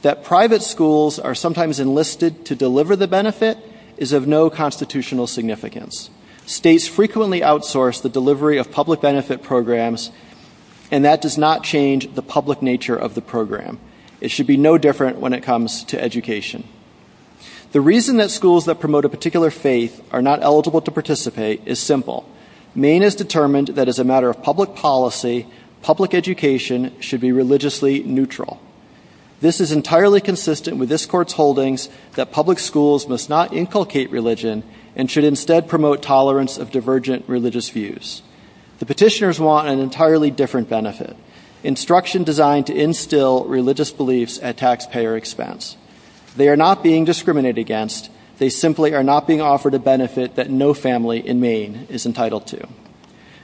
That private schools are sometimes enlisted to deliver the benefit is of no constitutional significance. States frequently outsource the delivery of public benefit programs, and that does not change the public nature of the program. It should be no different when it comes to education. The reason that schools that promote a particular faith are not eligible to participate is simple. Maine has determined that as a matter of public policy, public education should be religiously neutral. This is entirely consistent with this court's holdings that public schools must not inculcate religion and should instead promote tolerance of divergent religious views. The petitioners want an entirely different benefit, instruction designed to instill religious beliefs at taxpayer expense. They are not being discriminated against. They simply are not being offered a benefit that no family in Maine is entitled to.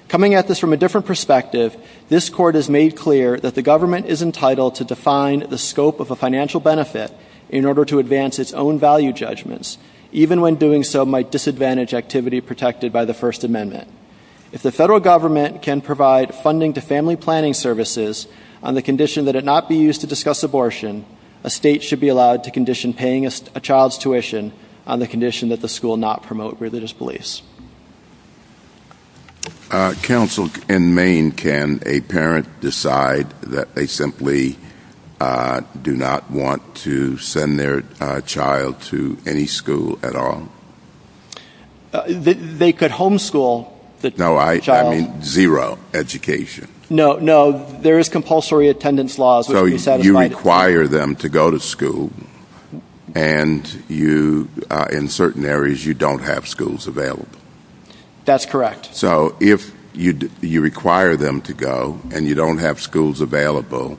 Coming at this from a different perspective, this court has made clear that the government is entitled to define the scope of a financial benefit in order to advance its own value judgments, even when doing so might disadvantage activity protected by the First Amendment. If the federal government can provide funding to family planning services on the condition that it not be used to discuss abortion, a state should be allowed to condition paying a child's tuition on the condition that the school not promote religious beliefs. Counsel, in Maine, can a parent decide that they simply do not want to send their child to any school at all? They could homeschool the child. No, I mean zero education. No, no, there is compulsory attendance laws. So you require them to go to school, and in certain areas you don't have schools available. That's correct. So if you require them to go, and you don't have schools available,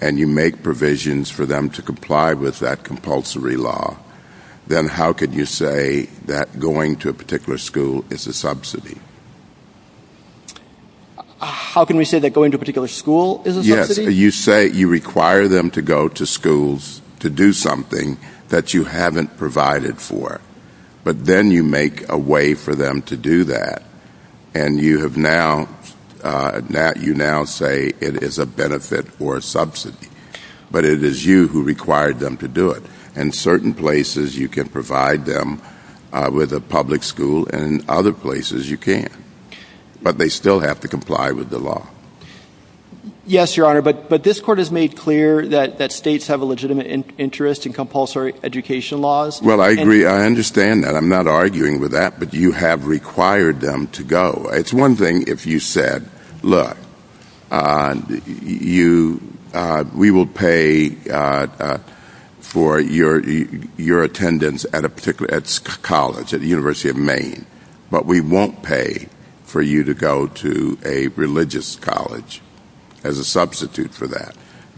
and you make provisions for them to comply with that compulsory law, then how could you say that going to a particular school is a subsidy? You say you require them to go to schools to do something that you haven't provided for. But then you make a way for them to do that, and you now say it is a benefit or a subsidy. But it is you who required them to do it. In certain places you can provide them with a public school, and in other places you can't. But they still have to comply with the law. Yes, Your Honor, but this Court has made clear that states have a legitimate interest in compulsory education laws. Well, I agree. I understand that. I'm not arguing with that, but you have required them to go. It's one thing if you said, look, we will pay for your attendance at a particular college, at the University of Maine, but we won't pay for you to go to a religious college as a substitute for that.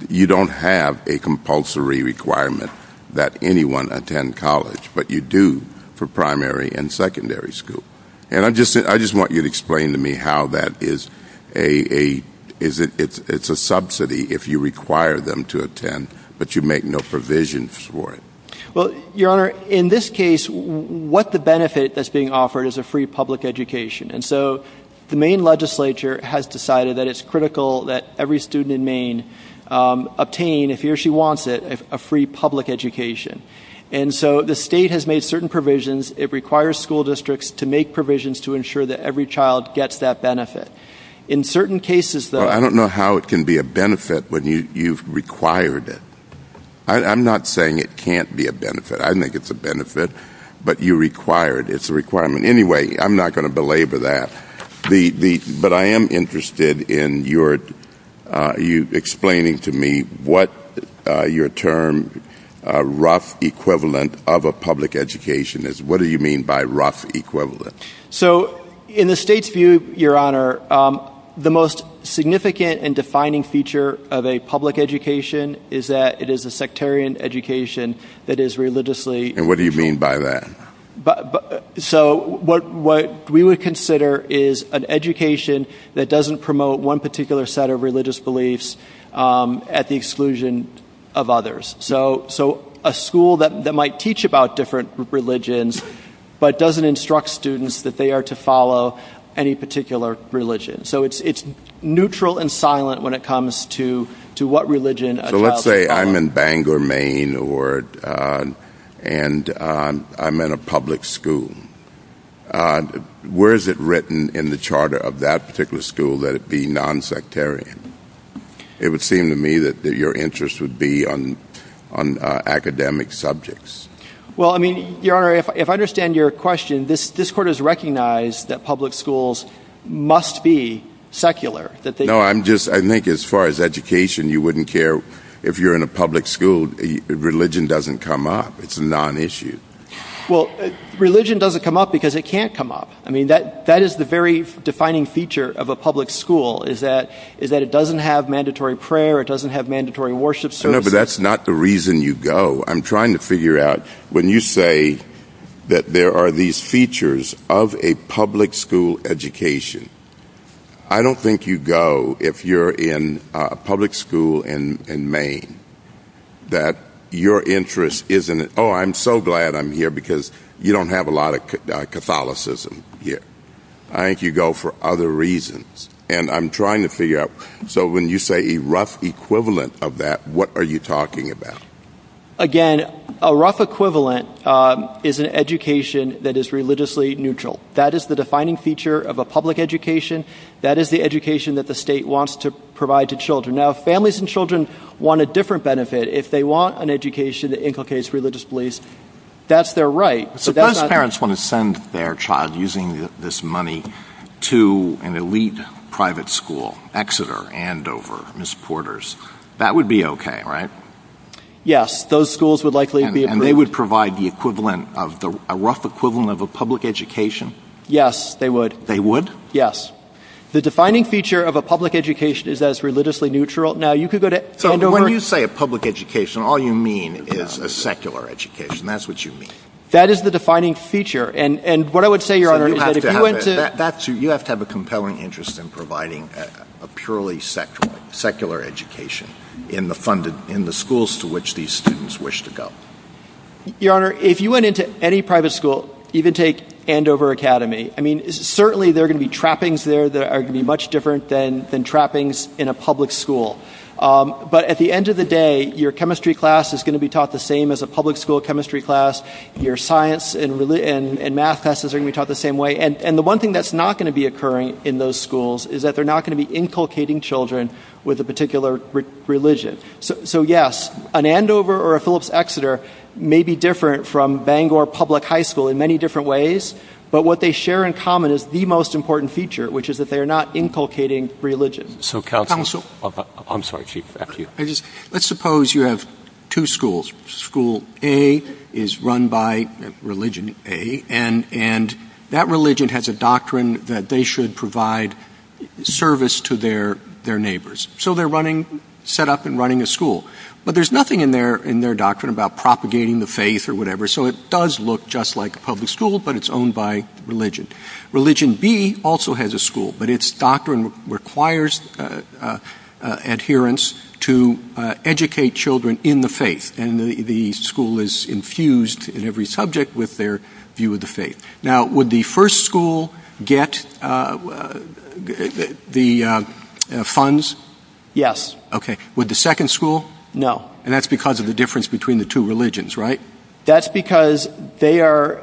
You don't have a compulsory requirement that anyone attend college, but you do for primary and secondary school. And I just want you to explain to me how that is a subsidy if you require them to attend, but you make no provisions for it. Well, Your Honor, in this case, what the benefit that's being offered is a free public education. And so the Maine legislature has decided that it's critical that every student in Maine obtain, if he or she wants it, a free public education. And so the state has made certain provisions. It requires school districts to make provisions to ensure that every child gets that benefit. In certain cases, though, I don't know how it can be a benefit when you've required it. I'm not saying it can't be a benefit. I think it's a benefit, but you require it. It's a requirement. Anyway, I'm not going to belabor that. But I am interested in you explaining to me what your term rough equivalent of a public education is. What do you mean by rough equivalent? So in the state's view, Your Honor, the most significant and defining feature of a public education is that it is a sectarian education that is religiously. And what do you mean by that? So what we would consider is an education that doesn't promote one particular set of religious beliefs at the exclusion of others. So a school that might teach about different religions, but doesn't instruct students that they are to follow any particular religion. So it's neutral and silent when it comes to what religion a child should follow. So let's say I'm in Bangor, Maine, and I'm in a public school. Where is it written in the charter of that particular school that it be nonsectarian? It would seem to me that your interest would be on academic subjects. Well, I mean, Your Honor, if I understand your question, this court has recognized that public schools must be secular. No, I think as far as education, you wouldn't care. If you're in a public school, religion doesn't come up. It's a non-issue. Well, religion doesn't come up because it can't come up. I mean, that is the very defining feature of a public school, is that it doesn't have mandatory prayer. It doesn't have mandatory worship services. No, but that's not the reason you go. I'm trying to figure out, when you say that there are these features of a public school education, I don't think you go if you're in a public school in Maine. that your interest is in it. Oh, I'm so glad I'm here because you don't have a lot of Catholicism here. I think you go for other reasons, and I'm trying to figure out. So when you say a rough equivalent of that, what are you talking about? Again, a rough equivalent is an education that is religiously neutral. That is the defining feature of a public education. That is the education that the state wants to provide to children. Now, if families and children want a different benefit, if they want an education that inculcates religious beliefs, that's their right. Suppose parents want to send their child, using this money, to an elite private school, Exeter, Andover, Miss Porters. That would be okay, right? Yes, those schools would likely be approved. And they would provide a rough equivalent of a public education? Yes, they would. They would? Yes. The defining feature of a public education is that it's religiously neutral. Now, you could go to Andover. So when you say a public education, all you mean is a secular education. That's what you mean. That is the defining feature. And what I would say, Your Honor, is that if you went to... You have to have a compelling interest in providing a purely secular education in the schools to which these students wish to go. Your Honor, if you went into any private school, even take Andover Academy, I mean, certainly there are going to be trappings there that are going to be much different than trappings in a public school. But at the end of the day, your chemistry class is going to be taught the same as a public school chemistry class. Your science and math classes are going to be taught the same way. And the one thing that's not going to be occurring in those schools is that they're not going to be inculcating children with a particular religion. So, yes, an Andover or a Phillips Exeter may be different from Bangor Public High School in many different ways. But what they share in common is the most important feature, which is that they are not inculcating religion. So, counsel, I'm sorry. Let's suppose you have two schools. School A is run by religion A. And that religion has a doctrine that they should provide service to their neighbors. So they're running, set up and running a school. But there's nothing in their doctrine about propagating the faith or whatever. So it does look just like a public school, but it's owned by religion. Religion B also has a school, but its doctrine requires adherence to educate children in the faith. And the school is infused in every subject with their view of the faith. Now, would the first school get the funds? Yes. OK. Would the second school? No. And that's because of the difference between the two religions, right? That's because their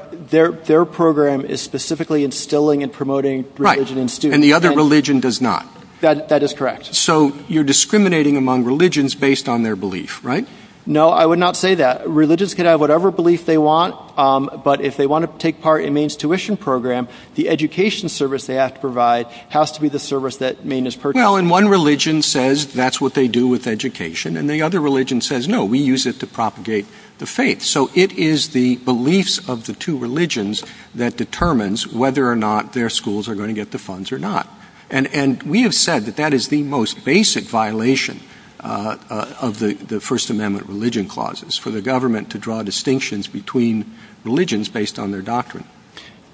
program is specifically instilling and promoting religion in students. Right. And the other religion does not. That is correct. So you're discriminating among religions based on their belief, right? No, I would not say that. Religions can have whatever belief they want. But if they want to take part in Maine's tuition program, the education service they have to provide has to be the service that Maine is purchasing. Well, and one religion says that's what they do with education, and the other religion says, no, we use it to propagate the faith. So it is the beliefs of the two religions that determines whether or not their schools are going to get the funds or not. And we have said that that is the most basic violation of the First Amendment religion clauses, for the government to draw distinctions between religions based on their doctrine.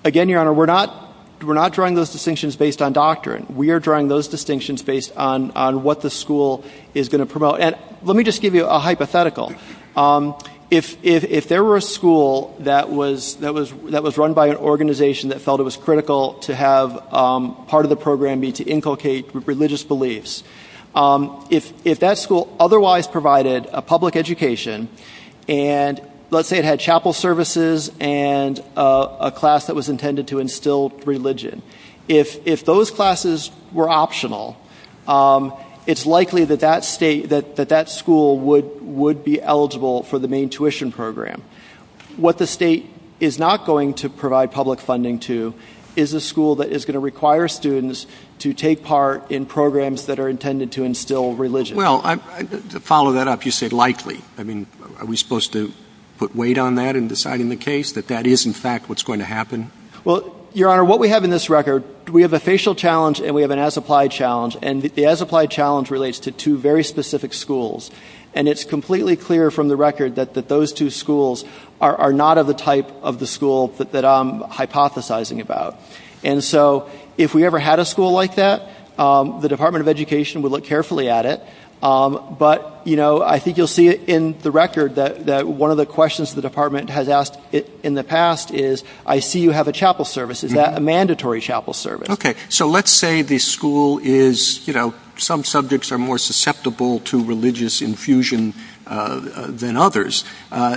Again, Your Honor, we're not drawing those distinctions based on doctrine. We are drawing those distinctions based on what the school is going to promote. And let me just give you a hypothetical. If there were a school that was run by an organization that felt it was critical to have part of the program be to inculcate religious beliefs, if that school otherwise provided a public education and, let's say, it had chapel services and a class that was intended to instill religion, if those classes were optional, it's likely that that school would be eligible for the Maine tuition program. What the state is not going to provide public funding to is a school that is going to require students to take part in programs that are intended to instill religion. Well, to follow that up, you said likely. I mean, are we supposed to put weight on that in deciding the case, that that is, in fact, what's going to happen? Well, Your Honor, what we have in this record, we have a facial challenge and we have an as-applied challenge. And the as-applied challenge relates to two very specific schools. And it's completely clear from the record that those two schools are not of the type of the school that I'm hypothesizing about. And so if we ever had a school like that, the Department of Education would look carefully at it. But, you know, I think you'll see it in the record that one of the questions the department has asked in the past is, I see you have a chapel service. Is that a mandatory chapel service? OK. So let's say the school is, you know, some subjects are more susceptible to religious infusion than others.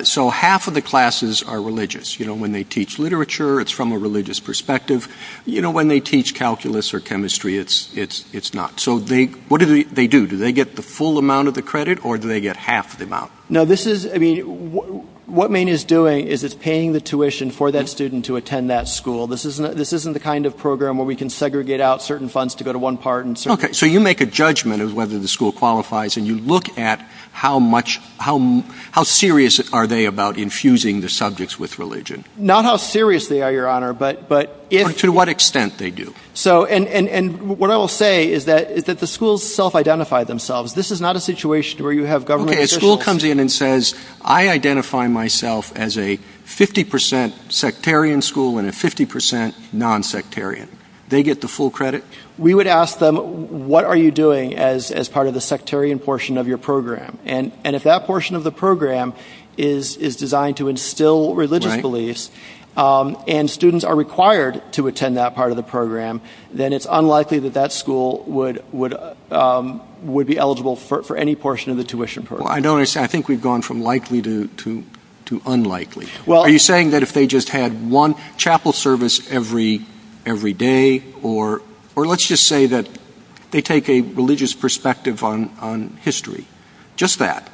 So half of the classes are religious. You know, when they teach literature, it's from a religious perspective. You know, when they teach calculus or chemistry, it's not. So what do they do? Do they get the full amount of the credit or do they get half the amount? No, this is, I mean, what Maine is doing is it's paying the tuition for that student to attend that school. This isn't the kind of program where we can segregate out certain funds to go to one part. OK. So you make a judgment of whether the school qualifies and you look at how much, how serious are they about infusing the subjects with religion? Not how serious they are, Your Honor, but. To what extent they do? So and what I will say is that the schools self-identify themselves. This is not a situation where you have government officials. OK, a school comes in and says, I identify myself as a 50 percent sectarian school and a 50 percent non-sectarian. They get the full credit. We would ask them, what are you doing as part of the sectarian portion of your program? And if that portion of the program is designed to instill religious beliefs and students are required to attend that part of the program, then it's unlikely that that school would be eligible for any portion of the tuition. Well, I notice I think we've gone from likely to unlikely. Are you saying that if they just had one chapel service every day or let's just say that they take a religious perspective on history? Just that.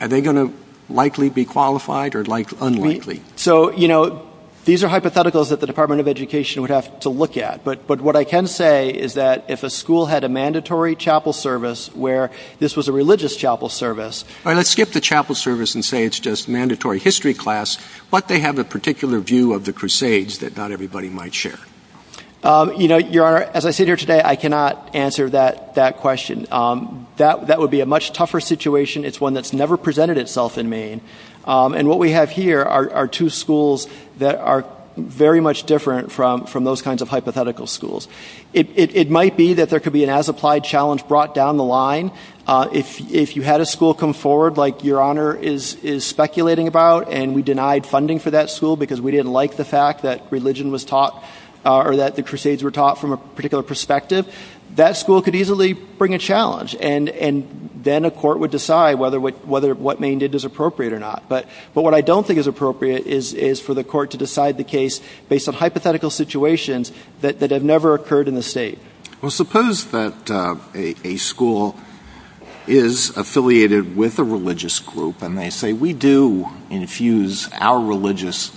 Are they going to likely be qualified or unlikely? So, you know, these are hypotheticals that the Department of Education would have to look at. But what I can say is that if a school had a mandatory chapel service where this was a religious chapel service. Let's skip the chapel service and say it's just mandatory history class. But they have a particular view of the Crusades that not everybody might share. You know, Your Honor, as I sit here today, I cannot answer that question. That would be a much tougher situation. It's one that's never presented itself in Maine. And what we have here are two schools that are very much different from those kinds of hypothetical schools. It might be that there could be an as applied challenge brought down the line. If you had a school come forward like Your Honor is speculating about, and we denied funding for that school because we didn't like the fact that religion was taught or that the Crusades were taught from a particular perspective. That school could easily bring a challenge. And then a court would decide whether what Maine did is appropriate or not. But what I don't think is appropriate is for the court to decide the case based on hypothetical situations that have never occurred in the state. Well, suppose that a school is affiliated with a religious group. And they say we do infuse our religious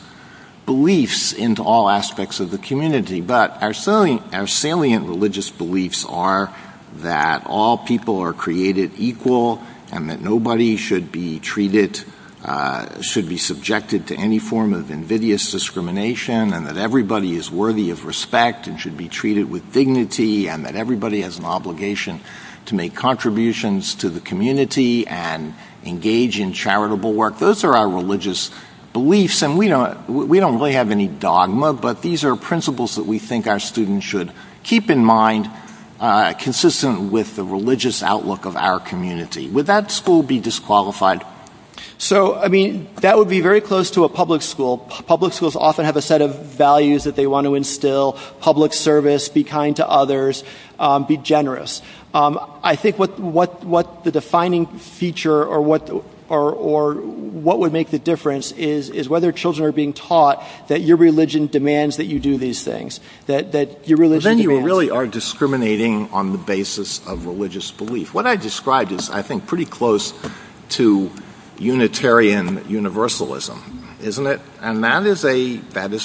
beliefs into all aspects of the community. But our salient religious beliefs are that all people are created equal and that nobody should be subjected to any form of invidious discrimination and that everybody is worthy of respect and should be treated with dignity and that everybody has an obligation to make contributions to the community and engage in charitable work. Those are our religious beliefs. And we don't really have any dogma, but these are principles that we think our students should keep in mind consistent with the religious outlook of our community. Would that school be disqualified? So, I mean, that would be very close to a public school. Public schools often have a set of values that they want to instill. Public service, be kind to others, be generous. I think what the defining feature or what would make the difference is whether children are being taught that your religion demands that you do these things. Then you really are discriminating on the basis of religious belief. What I described is, I think, pretty close to Unitarian Universalism, isn't it? And that is a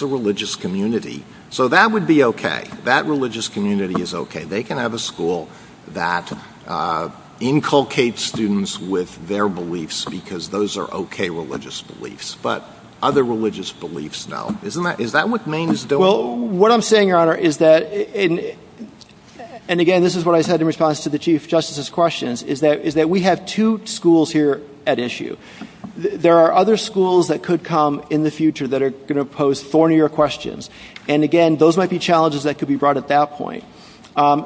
religious community. So that would be okay. That religious community is okay. They can have a school that inculcates students with their beliefs because those are okay religious beliefs. But other religious beliefs, no. Is that what Maine is doing? Well, what I'm saying, Your Honor, is that, and again, this is what I said in response to the Chief Justice's questions, is that we have two schools here at issue. There are other schools that could come in the future that are going to pose thornier questions. And again, those might be challenges that could be brought at that point.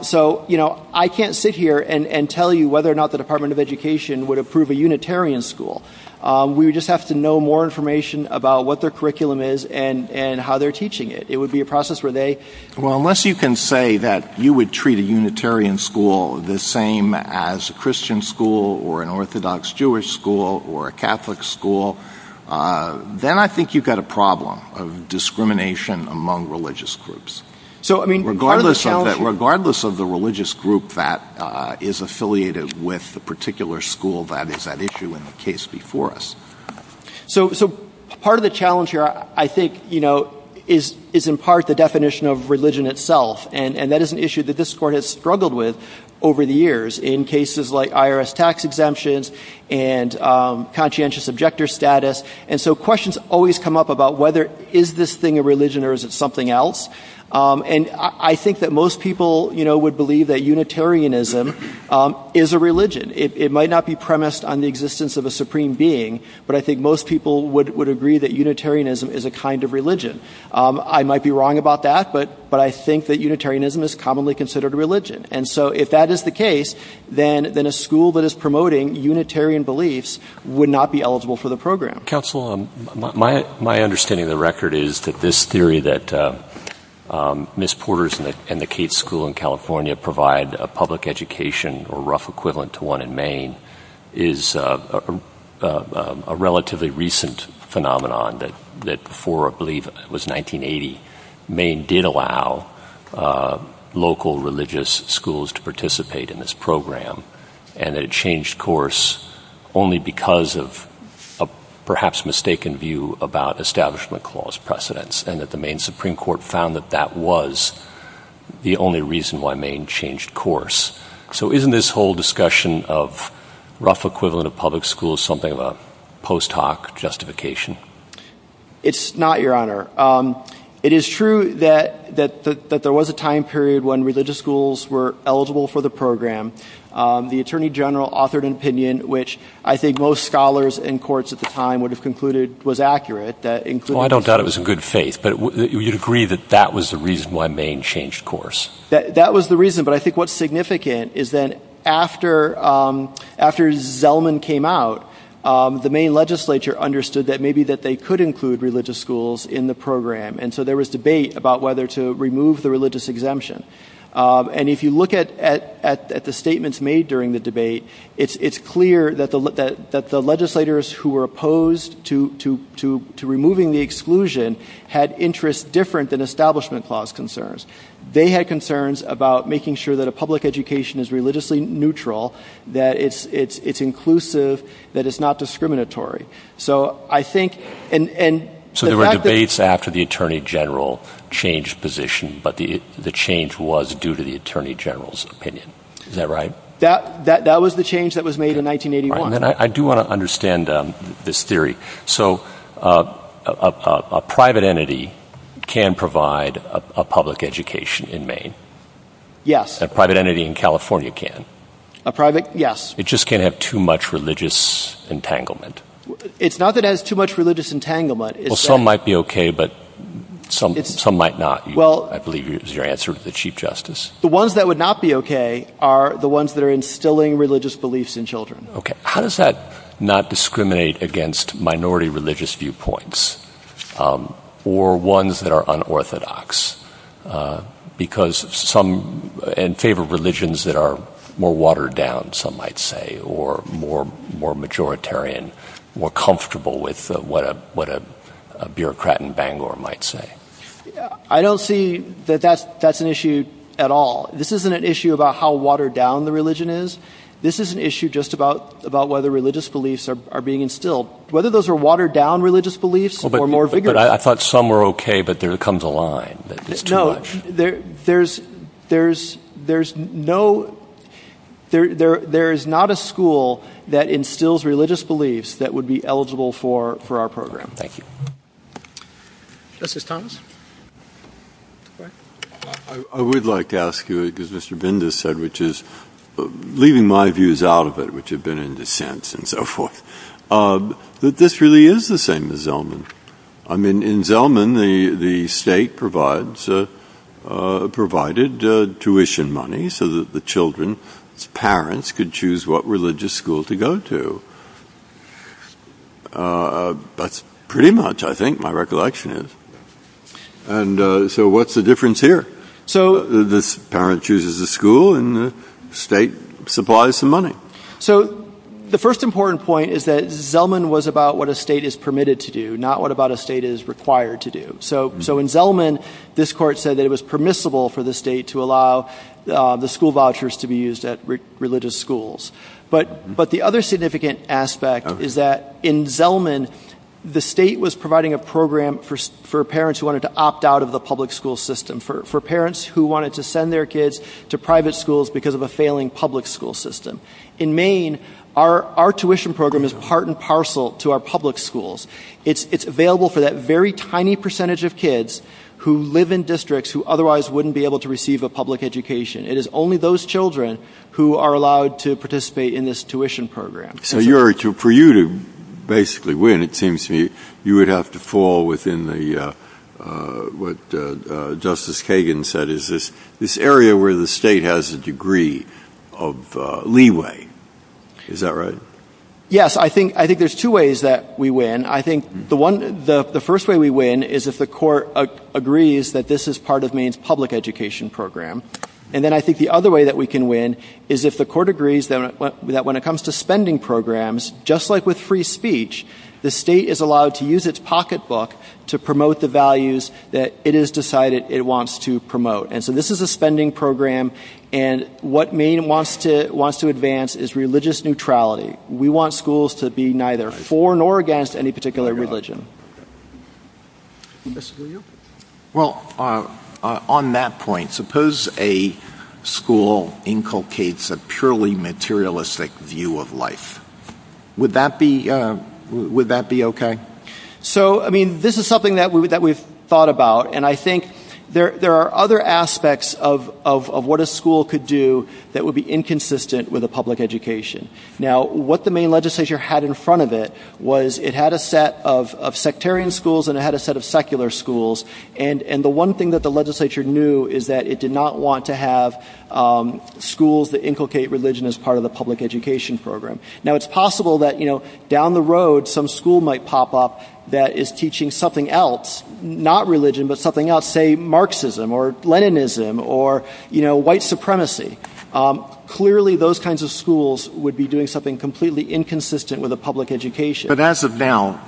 So, you know, I can't sit here and tell you whether or not the Department of Education would approve a Unitarian school. We would just have to know more information about what their curriculum is and how they're teaching it. It would be a process where they... Well, unless you can say that you would treat a Unitarian school the same as a Christian school or an Orthodox Jewish school or a Catholic school, then I think you've got a problem of discrimination among religious groups. Regardless of the religious group that is affiliated with the particular school that is at issue in the case before us. So part of the challenge here, I think, you know, is in part the definition of religion itself. And that is an issue that this Court has struggled with over the years in cases like IRS tax exemptions and conscientious objector status. And so questions always come up about whether is this thing a religion or is it something else? And I think that most people, you know, would believe that Unitarianism is a religion. It might not be premised on the existence of a supreme being, but I think most people would agree that Unitarianism is a kind of religion. I might be wrong about that, but I think that Unitarianism is commonly considered a religion. And so if that is the case, then a school that is promoting Unitarian beliefs would not be eligible for the program. Counselor, my understanding of the record is that this theory that Ms. Porters and the Cates School in California provide a public education or rough equivalent to one in Maine is a relatively recent phenomenon that before, I believe, it was 1980, Maine did allow local religious schools to participate in this program and that it changed course only because of a perhaps mistaken view about establishment clause precedence and that the Maine Supreme Court found that that was the only reason why Maine changed course. So isn't this whole discussion of rough equivalent of public schools something of a post hoc justification? It's not, Your Honor. It is true that there was a time period when religious schools were eligible for the program. The Attorney General authored an opinion, which I think most scholars in courts at the time would have concluded was accurate. Well, I don't doubt it was in good faith, but you'd agree that that was the reason why Maine changed course. That was the reason, but I think what's significant is that after Zellman came out, the Maine legislature understood that maybe that they could include religious schools in the program and so there was debate about whether to remove the religious exemption. And if you look at the statements made during the debate, it's clear that the legislators who were opposed to removing the exclusion had interests different than establishment clause concerns. They had concerns about making sure that a public education is religiously neutral, that it's inclusive, that it's not discriminatory. So there were debates after the Attorney General changed position, but the change was due to the Attorney General's opinion. Is that right? That was the change that was made in 1981. I do want to understand this theory. So a private entity can provide a public education in Maine? Yes. A private entity in California can? Yes. It just can't have too much religious entanglement? It's not that it has too much religious entanglement. Well, some might be okay, but some might not, I believe is your answer to the Chief Justice. The ones that would not be okay are the ones that are instilling religious beliefs in children. Okay. How does that not discriminate against minority religious viewpoints or ones that are unorthodox? Because some favor religions that are more watered down, some might say, or more majoritarian, more comfortable with what a bureaucrat in Bangor might say. I don't see that that's an issue at all. This isn't an issue about how watered down the religion is. This is an issue just about whether religious beliefs are being instilled. Whether those are watered down religious beliefs or more vigorous. I thought some were okay, but there comes a line. No, there is not a school that instills religious beliefs that would be eligible for our program. Thank you. Justice Thomas? I would like to ask you, because Mr. Binder said, which is leaving my views out of it, but this really is the same as Zellman. In Zellman, the state provided tuition money so that the children's parents could choose what religious school to go to. That's pretty much, I think, my recollection is. So what's the difference here? The parent chooses a school and the state supplies the money. So the first important point is that Zellman was about what a state is permitted to do, not what a state is required to do. So in Zellman, this court said that it was permissible for the state to allow the school vouchers to be used at religious schools. But the other significant aspect is that in Zellman, the state was providing a program for parents who wanted to opt out of the public school system, for parents who wanted to send their kids to private schools because of a failing public school system. In Maine, our tuition program is part and parcel to our public schools. It's available for that very tiny percentage of kids who live in districts who otherwise wouldn't be able to receive a public education. It is only those children who are allowed to participate in this tuition program. So for you to basically win, it seems to me you would have to fall within what Justice Kagan said is this area where the state has a degree of leeway. Is that right? Yes, I think there's two ways that we win. I think the first way we win is if the court agrees that this is part of Maine's public education program. And then I think the other way that we can win is if the court agrees that when it comes to spending programs, just like with free speech, the state is allowed to use its pocketbook to promote the values that it has decided it wants to promote. And so this is a spending program, and what Maine wants to advance is religious neutrality. We want schools to be neither for nor against any particular religion. Well, on that point, suppose a school inculcates a purely materialistic view of life. Would that be okay? So, I mean, this is something that we've thought about, and I think there are other aspects of what a school could do that would be inconsistent with a public education. Now, what the Maine legislature had in front of it was it had a set of sectarian schools and it had a set of secular schools, and the one thing that the legislature knew is that it did not want to have schools that inculcate religion as part of the public education program. Now, it's possible that, you know, down the road some school might pop up that is teaching something else, not religion, but something else, say Marxism or Leninism or, you know, white supremacy. Clearly, those kinds of schools would be doing something completely inconsistent with a public education. But as of now,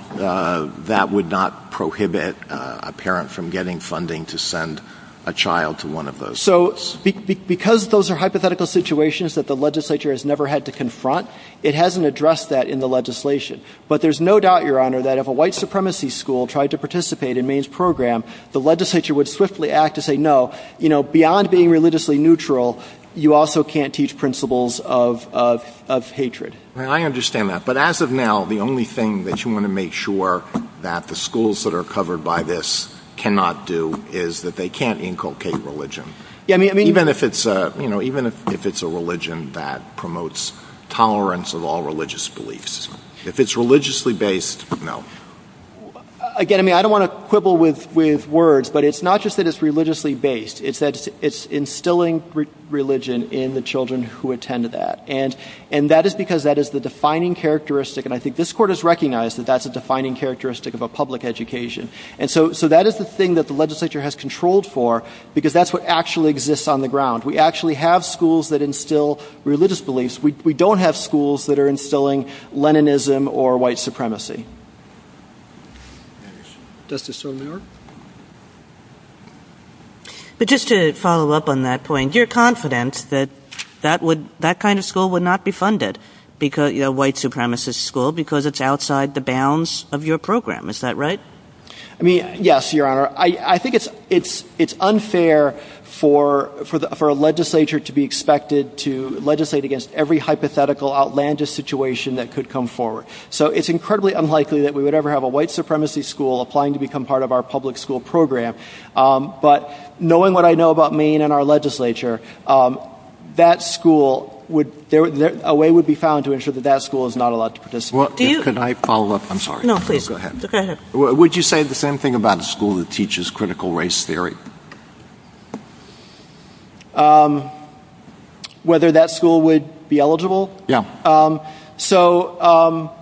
that would not prohibit a parent from getting funding to send a child to one of those. So, because those are hypothetical situations that the legislature has never had to confront, it hasn't addressed that in the legislation. But there's no doubt, Your Honor, that if a white supremacy school tried to participate in Maine's program, the legislature would swiftly act to say, no, you know, beyond being religiously neutral, you also can't teach principles of hatred. I understand that. But as of now, the only thing that you want to make sure that the schools that are covered by this cannot do is that they can't inculcate religion. Even if it's a religion that promotes tolerance of all religious beliefs. If it's religiously based, no. Again, I mean, I don't want to quibble with words, but it's not just that it's religiously based. It's that it's instilling religion in the children who attend to that. And that is because that is the defining characteristic, and I think this court has recognized that that's a defining characteristic of a public education. And so that is the thing that the legislature has controlled for, because that's what actually exists on the ground. We actually have schools that instill religious beliefs. We don't have schools that are instilling Leninism or white supremacy. But just to follow up on that point, you're confident that that kind of school would not be funded, a white supremacist school, because it's outside the bounds of your program. Is that right? Yes, Your Honor. I think it's unfair for a legislature to be expected to legislate against every hypothetical, outlandish situation that could come forward. So it's incredibly unlikely that we would ever have a white supremacy school applying to become part of our public school program. But knowing what I know about Maine and our legislature, a way would be found to ensure that that school is not allowed to participate. Could I follow up? I'm sorry. Go ahead. Would you say the same thing about a school that teaches critical race theory? Whether that school would be eligible? Yeah. So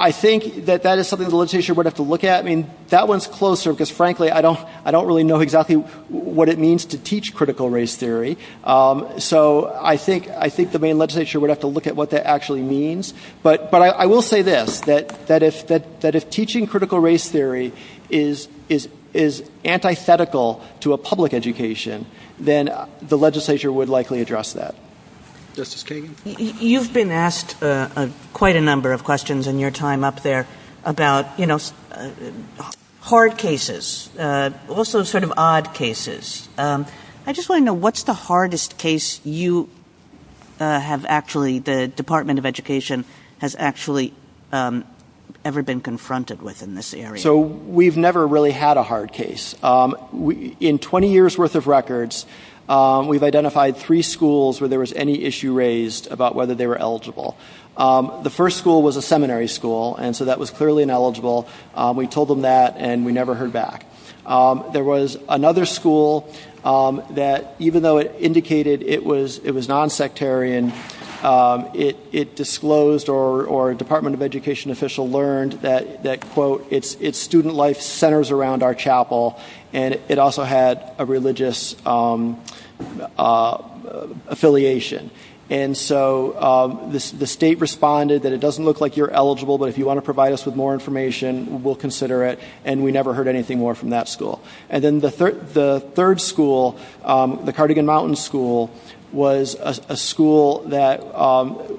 I think that that is something the legislature would have to look at. I mean, that one's closer, because frankly, I don't really know exactly what it means to teach critical race theory. So I think the Maine legislature would have to look at what that actually means. But I will say this, that if teaching critical race theory is antithetical to a public education, then the legislature would likely address that. Justice Kagan? You've been asked quite a number of questions in your time up there about, you know, hard cases, also sort of odd cases. I just want to know, what's the hardest case you have actually, the Department of Education has actually ever been confronted with in this area? So we've never really had a hard case. In 20 years' worth of records, we've identified three schools where there was any issue raised about whether they were eligible. The first school was a seminary school, and so that was clearly ineligible. We told them that, and we never heard back. There was another school that, even though it indicated it was nonsectarian, it disclosed or a Department of Education official learned that, quote, its student life centers around our chapel, and it also had a religious affiliation. And so the state responded that it doesn't look like you're eligible, but if you want to provide us with more information, we'll consider it. And we never heard anything more from that school. And then the third school, the Cardigan Mountain School, was a school that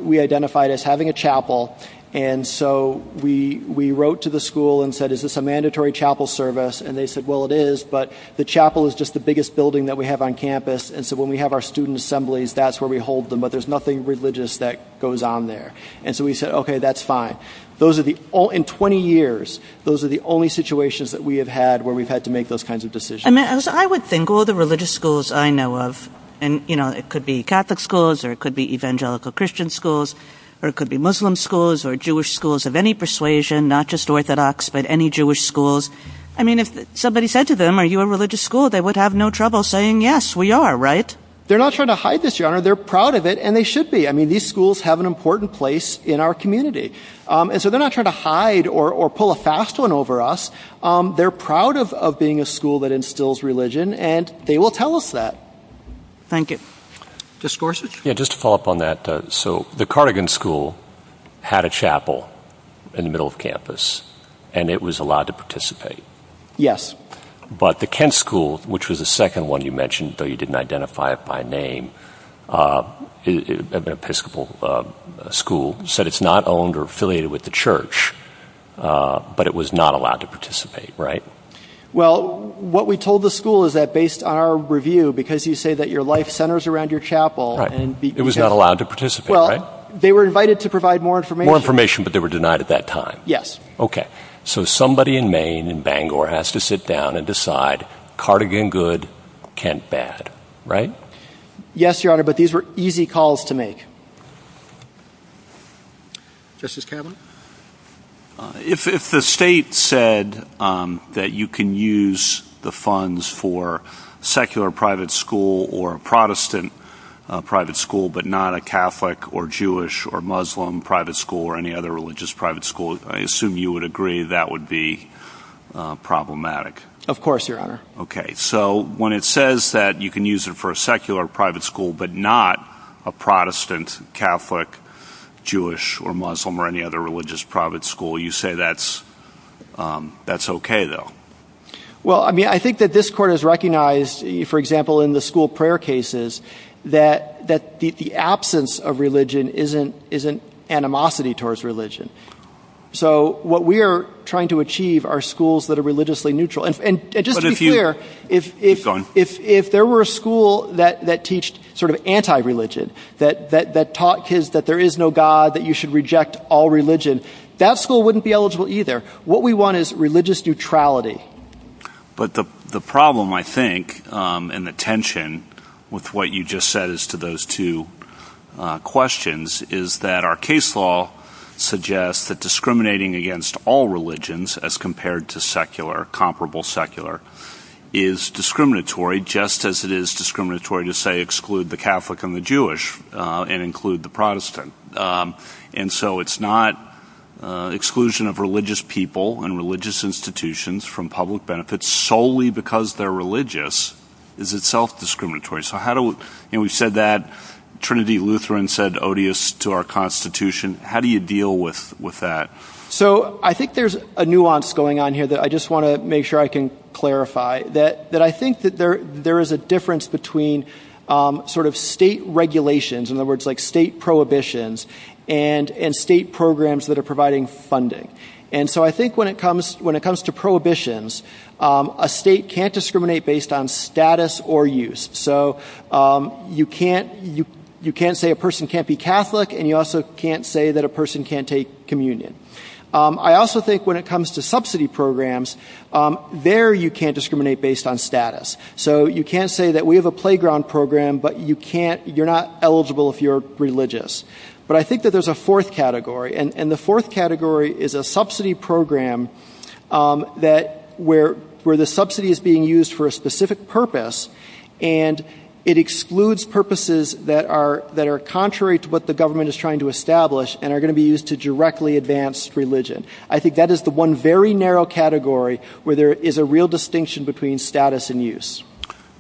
we identified as having a chapel, and so we wrote to the school and said, is this a mandatory chapel service? And they said, well, it is, but the chapel is just the biggest building that we have on campus, and so when we have our student assemblies, that's where we hold them, but there's nothing religious that goes on there. And so we said, okay, that's fine. In 20 years, those are the only situations that we have had where we've had to make those kinds of decisions. I would think all the religious schools I know of, and it could be Catholic schools or it could be Evangelical Christian schools or it could be Muslim schools or Jewish schools of any persuasion, not just Orthodox, but any Jewish schools. I mean, if somebody said to them, are you a religious school, they would have no trouble saying, yes, we are, right? They're not trying to hide this, John. They're proud of it, and they should be. I mean, these schools have an important place in our community, and so they're not trying to hide or pull a fast one over us. They're proud of being a school that instills religion, and they will tell us that. Thank you. Just to follow up on that, so the Cardigan School had a chapel in the middle of campus, and it was allowed to participate. Yes. But the Kent School, which was the second one you mentioned, though you didn't identify it by name, an Episcopal school, said it's not owned or affiliated with the church, but it was not allowed to participate, right? Well, what we told the school is that, based on our review, because you say that your life centers around your chapel, it was not allowed to participate, right? Well, they were invited to provide more information. More information, but they were denied at that time. Yes. Okay, so somebody in Maine, in Bangor, has to sit down and decide, Cardigan good, Kent bad, right? Yes, Your Honor, but these were easy calls to make. Justice Kavanaugh? If the state said that you can use the funds for a secular private school or a Protestant private school, but not a Catholic or Jewish or Muslim private school or any other religious private school, I assume you would agree that would be problematic. Of course, Your Honor. Okay, so when it says that you can use it for a secular private school, but not a Protestant, Catholic, Jewish or Muslim or any other religious private school, you say that's okay, though? Well, I mean, I think that this Court has recognized, for example, in the school prayer cases, that the absence of religion is an animosity towards religion. So what we are trying to achieve are schools that are religiously neutral. And just to be clear, if there were a school that teached sort of anti-religion, that taught kids that there is no God, that you should reject all religion, that school wouldn't be eligible either. What we want is religious neutrality. But the problem, I think, and the tension with what you just said as to those two questions, is that our case law suggests that discriminating against all religions as compared to secular, comparable secular, is discriminatory just as it is discriminatory to, say, exclude the Catholic and the Jewish and include the Protestant. And so it's not exclusion of religious people and religious institutions from public benefits solely because they're religious is itself discriminatory. We said that Trinity Lutheran said odious to our Constitution. How do you deal with that? So I think there's a nuance going on here that I just want to make sure I can clarify, that I think that there is a difference between sort of state regulations, in other words, like state prohibitions, and state programs that are providing funding. And so I think when it comes to prohibitions, a state can't discriminate based on status or use. So you can't say a person can't be Catholic, and you also can't say that a person can't take communion. I also think when it comes to subsidy programs, there you can't discriminate based on status. So you can't say that we have a playground program, but you're not eligible if you're religious. But I think that there's a fourth category, and the fourth category is a subsidy program where the subsidy is being used for a specific purpose and it excludes purposes that are contrary to what the government is trying to establish and are going to be used to directly advance religion. I think that is the one very narrow category where there is a real distinction between status and use.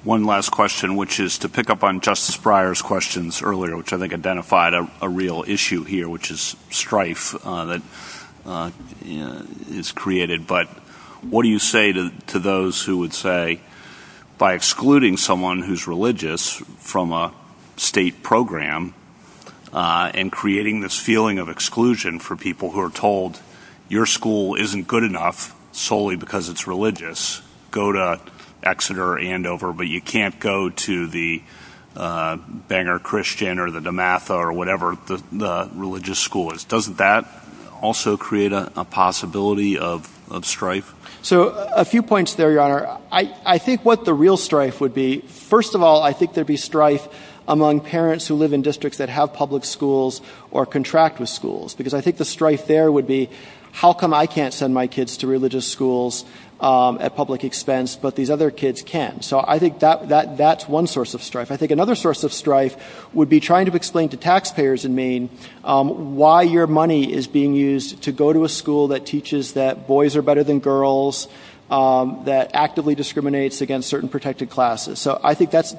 One last question, which is to pick up on Justice Breyer's questions earlier, which I think identified a real issue here, which is strife that is created. But what do you say to those who would say by excluding someone who's religious from a state program and creating this feeling of exclusion for people who are told, your school isn't good enough solely because it's religious, go to Exeter or Andover, but you can't go to the Bangor Christian or the DeMatha or whatever the religious school is. Doesn't that also create a possibility of strife? So a few points there, Your Honor. I think what the real strife would be, first of all, I think there'd be strife among parents who live in districts that have public schools or contract with schools because I think the strife there would be how come I can't send my kids to religious schools at public expense, but these other kids can? So I think that's one source of strife. I think another source of strife would be trying to explain to taxpayers in Maine why your money is being used to go to a school that teaches that boys are better than girls, that actively discriminates against certain protected classes. So I think that's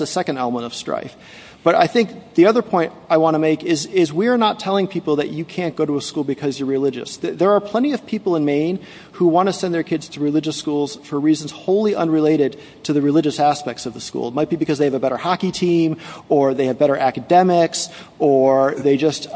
a second element of strife. But I think the other point I want to make is we are not telling people that you can't go to a school because you're religious. There are plenty of people in Maine who want to send their kids to religious schools for reasons wholly unrelated to the religious aspects of the school. It might be because they have a better hockey team or they have better academics or they just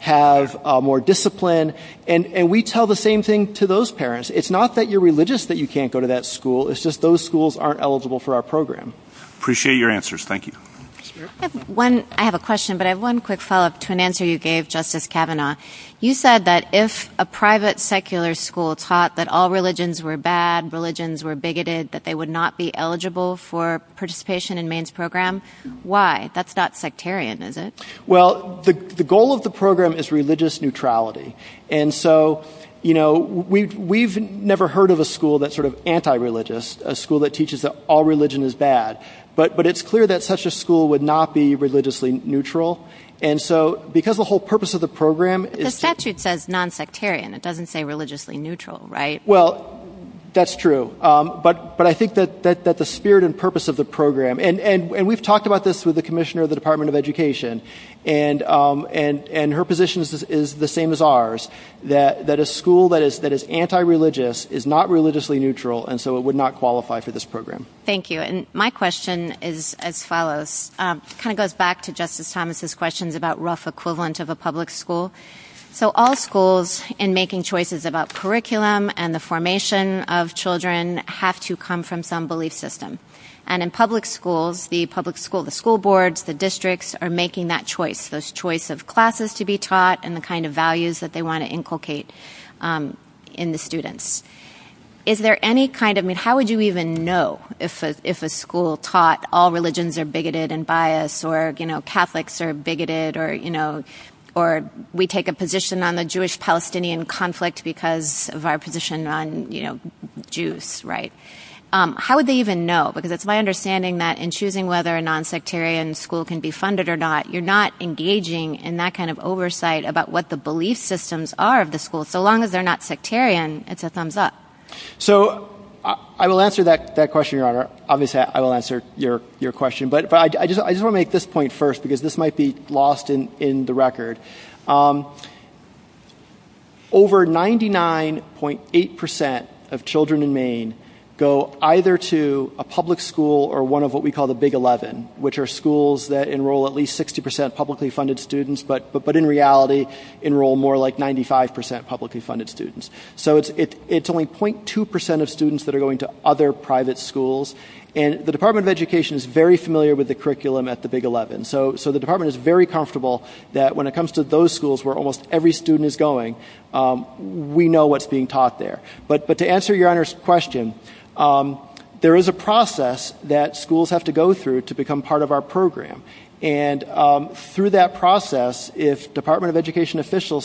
have more discipline, and we tell the same thing to those parents. It's not that you're religious that you can't go to that school. It's just those schools aren't eligible for our program. Appreciate your answers. Thank you. I have a question, but I have one quick follow-up to an answer you gave, Justice Kavanaugh. You said that if a private secular school taught that all religions were bad, that all religions were bigoted, that they would not be eligible for participation in Maine's program. Why? That's not sectarian, is it? Well, the goal of the program is religious neutrality. And so, you know, we've never heard of a school that's sort of anti-religious, a school that teaches that all religion is bad. But it's clear that such a school would not be religiously neutral. And so because the whole purpose of the program is to – The statute says non-sectarian. It doesn't say religiously neutral, right? Well, that's true. But I think that the spirit and purpose of the program – and we've talked about this with the commissioner of the Department of Education, and her position is the same as ours, that a school that is anti-religious is not religiously neutral, and so it would not qualify for this program. Thank you. And my question is as follows. It kind of goes back to Justice Thomas' questions about rough equivalent of a public school. So all schools, in making choices about curriculum and the formation of children, have to come from some belief system. And in public schools, the public school, the school boards, the districts, are making that choice, this choice of classes to be taught and the kind of values that they want to inculcate in the students. Is there any kind of – I mean, how would you even know if a school taught all religions are bigoted and biased, or, you know, Catholics are bigoted, or, you know, or we take a position on the Jewish-Palestinian conflict because of our position on, you know, Jews, right? How would they even know? Because it's my understanding that in choosing whether a nonsectarian school can be funded or not, you're not engaging in that kind of oversight about what the belief systems are of the school. So long as they're not sectarian, it's a thumbs up. So I will answer that question, Your Honor. Obviously, I will answer your question. But I just want to make this point first because this might be lost in the record. Over 99.8% of children in Maine go either to a public school or one of what we call the Big 11, which are schools that enroll at least 60% publicly funded students, but in reality enroll more like 95% publicly funded students. So it's only 0.2% of students that are going to other private schools. And the Department of Education is very familiar with the curriculum at the Big 11. So the department is very comfortable that when it comes to those schools where almost every student is going, we know what's being taught there. But to answer Your Honor's question, there is a process that schools have to go through to become part of our program. And through that process, if Department of Education officials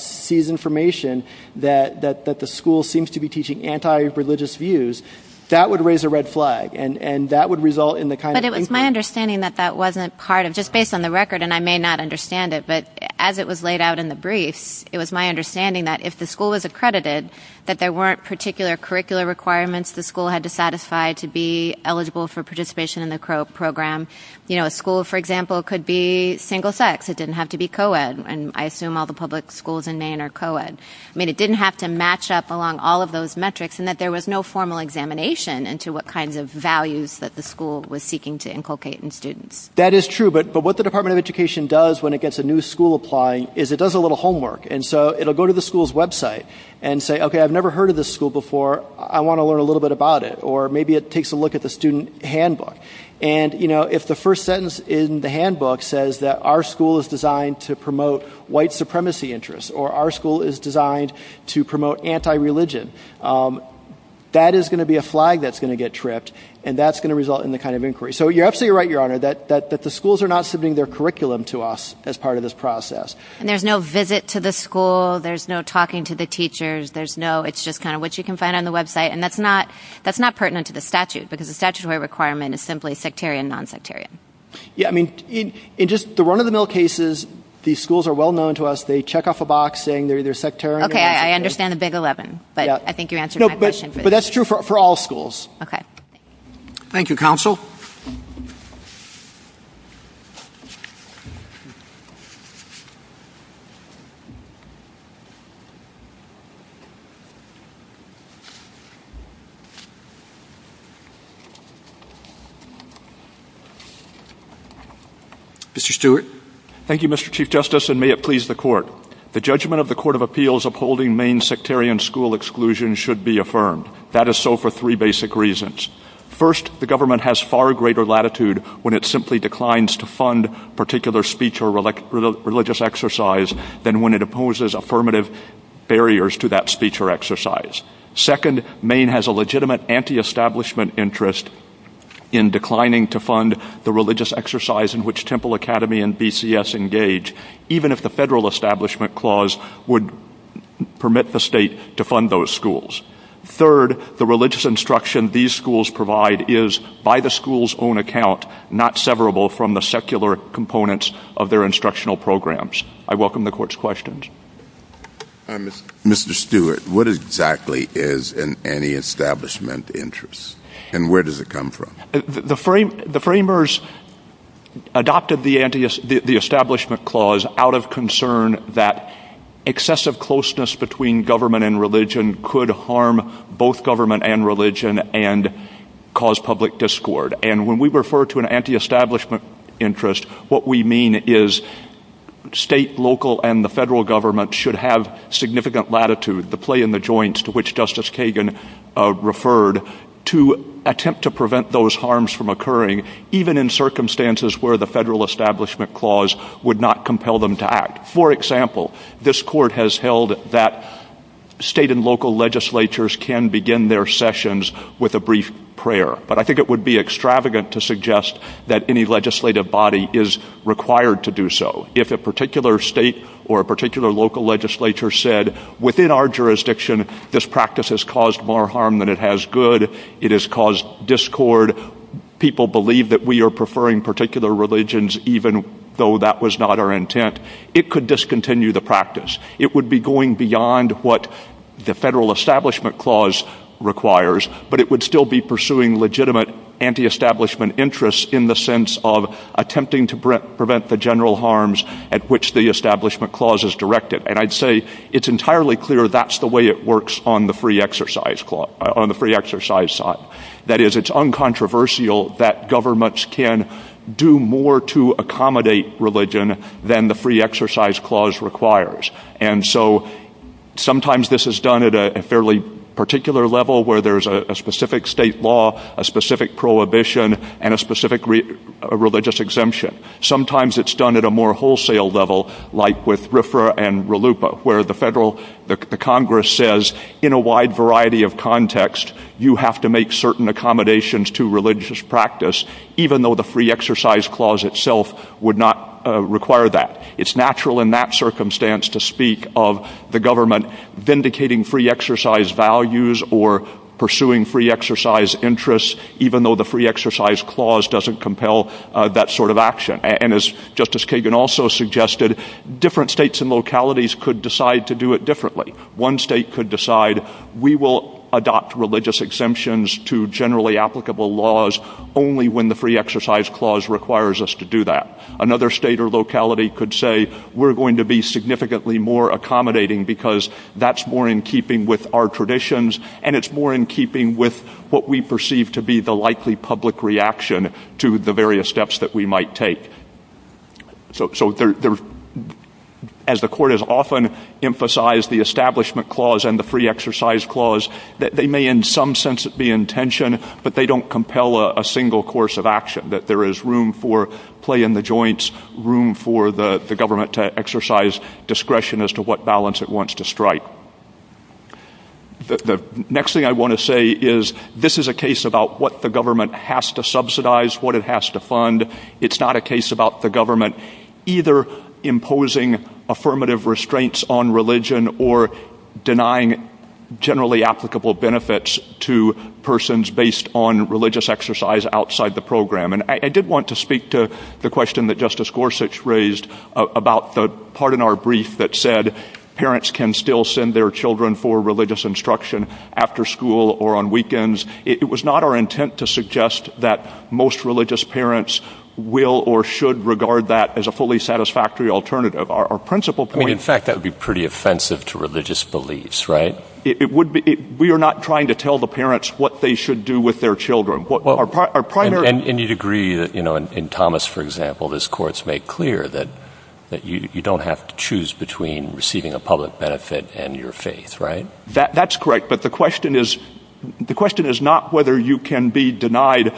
sees information that the school seems to be teaching anti-religious views, that would raise a red flag and that would result in the kind of increase. But it was my understanding that that wasn't part of, just based on the record, and I may not understand it, but as it was laid out in the brief, it was my understanding that if the school was accredited, that there weren't particular curricular requirements the school had to satisfy to be eligible for participation in the program. You know, a school, for example, could be single sex. It didn't have to be co-ed, and I assume all the public schools in Maine are co-ed. I mean, it didn't have to match up along all of those metrics, and that there was no formal examination into what kind of values that the school was seeking to inculcate in students. That is true, but what the Department of Education does when it gets a new school applying is it does a little homework. And so it'll go to the school's website and say, okay, I've never heard of this school before. I want to learn a little bit about it. Or maybe it takes a look at the student handbook. And, you know, if the first sentence in the handbook says that our school is designed to promote white supremacy interests or our school is designed to promote anti-religion, that is going to be a flag that's going to get tripped, and that's going to result in the kind of inquiry. So you're absolutely right, Your Honor, that the schools are not submitting their curriculum to us as part of this process. And there's no visit to the school. There's no talking to the teachers. It's just kind of what you can find on the website, and that's not pertinent to the statute because the statutory requirement is simply sectarian, non-sectarian. Yeah, I mean, in just the run-of-the-mill cases, these schools are well known to us. Okay, I understand the Big 11, but I think you're answering my question. But that's true for all schools. Okay. Thank you, Counsel. Mr. Stewart. Thank you, Mr. Chief Justice, and may it please the Court. The judgment of the Court of Appeals upholding Maine's sectarian school exclusion should be affirmed. That is so for three basic reasons. First, the government has far greater latitude when it simply declines to fund particular speech or religious exercise than when it opposes affirmative barriers to that speech or exercise. Second, Maine has a legitimate anti-establishment interest in declining to fund the religious exercise in which Temple Academy and BCS engage, even if the federal establishment clause would permit the state to fund those schools. Third, the religious instruction these schools provide is, by the school's own account, not severable from the secular components of their instructional programs. I welcome the Court's questions. Mr. Stewart, what exactly is an anti-establishment interest, and where does it come from? The framers adopted the establishment clause out of concern that excessive closeness between government and religion could harm both government and religion and cause public discord. And when we refer to an anti-establishment interest, what we mean is state, local, and the federal government should have significant latitude, the play in the joints to which Justice Kagan referred, to attempt to prevent those harms from occurring, even in circumstances where the federal establishment clause would not compel them to act. For example, this Court has held that state and local legislatures can begin their sessions with a brief prayer. But I think it would be extravagant to suggest that any legislative body is required to do so. If a particular state or a particular local legislature said, within our jurisdiction, this practice has caused more harm than it has good, it has caused discord, people believe that we are preferring particular religions even though that was not our intent, it could discontinue the practice. It would be going beyond what the federal establishment clause requires, but it would still be pursuing legitimate anti-establishment interests in the sense of attempting to prevent the general harms at which the establishment clause is directed. And I'd say it's entirely clear that's the way it works on the free exercise side. That is, it's uncontroversial that governments can do more to accommodate religion than the free exercise clause requires. And so sometimes this is done at a fairly particular level where there's a specific state law, a specific prohibition, and a specific religious exemption. Sometimes it's done at a more wholesale level, like with RFRA and RLUIPA, where the Congress says, in a wide variety of contexts, you have to make certain accommodations to religious practice, even though the free exercise clause itself would not require that. It's natural in that circumstance to speak of the government vindicating free exercise values or pursuing free exercise interests, even though the free exercise clause doesn't compel that sort of action. And as Justice Kagan also suggested, different states and localities could decide to do it differently. One state could decide, we will adopt religious exemptions to generally applicable laws only when the free exercise clause requires us to do that. Another state or locality could say, we're going to be significantly more accommodating because that's more in keeping with our traditions, and it's more in keeping with what we perceive to be the likely public reaction to the various steps that we might take. So as the Court has often emphasized, the establishment clause and the free exercise clause, they may in some sense be in tension, but they don't compel a single course of action, that there is room for play in the joints, room for the government to exercise discretion as to what balance it wants to strike. The next thing I want to say is, this is a case about what the government has to subsidize, what it has to fund. It's not a case about the government either imposing affirmative restraints on religion or denying generally applicable benefits to persons based on religious exercise outside the program. And I did want to speak to the question that Justice Gorsuch raised about the part in our brief that said parents can still send their children for religious instruction after school or on weekends. It was not our intent to suggest that most religious parents will or should regard that as a fully satisfactory alternative. Our principal point— In fact, that would be pretty offensive to religious beliefs, right? We are not trying to tell the parents what they should do with their children. And you'd agree that in Thomas, for example, this court's made clear that you don't have to choose between receiving a public benefit and your faith, right? That's correct, but the question is not whether you can be denied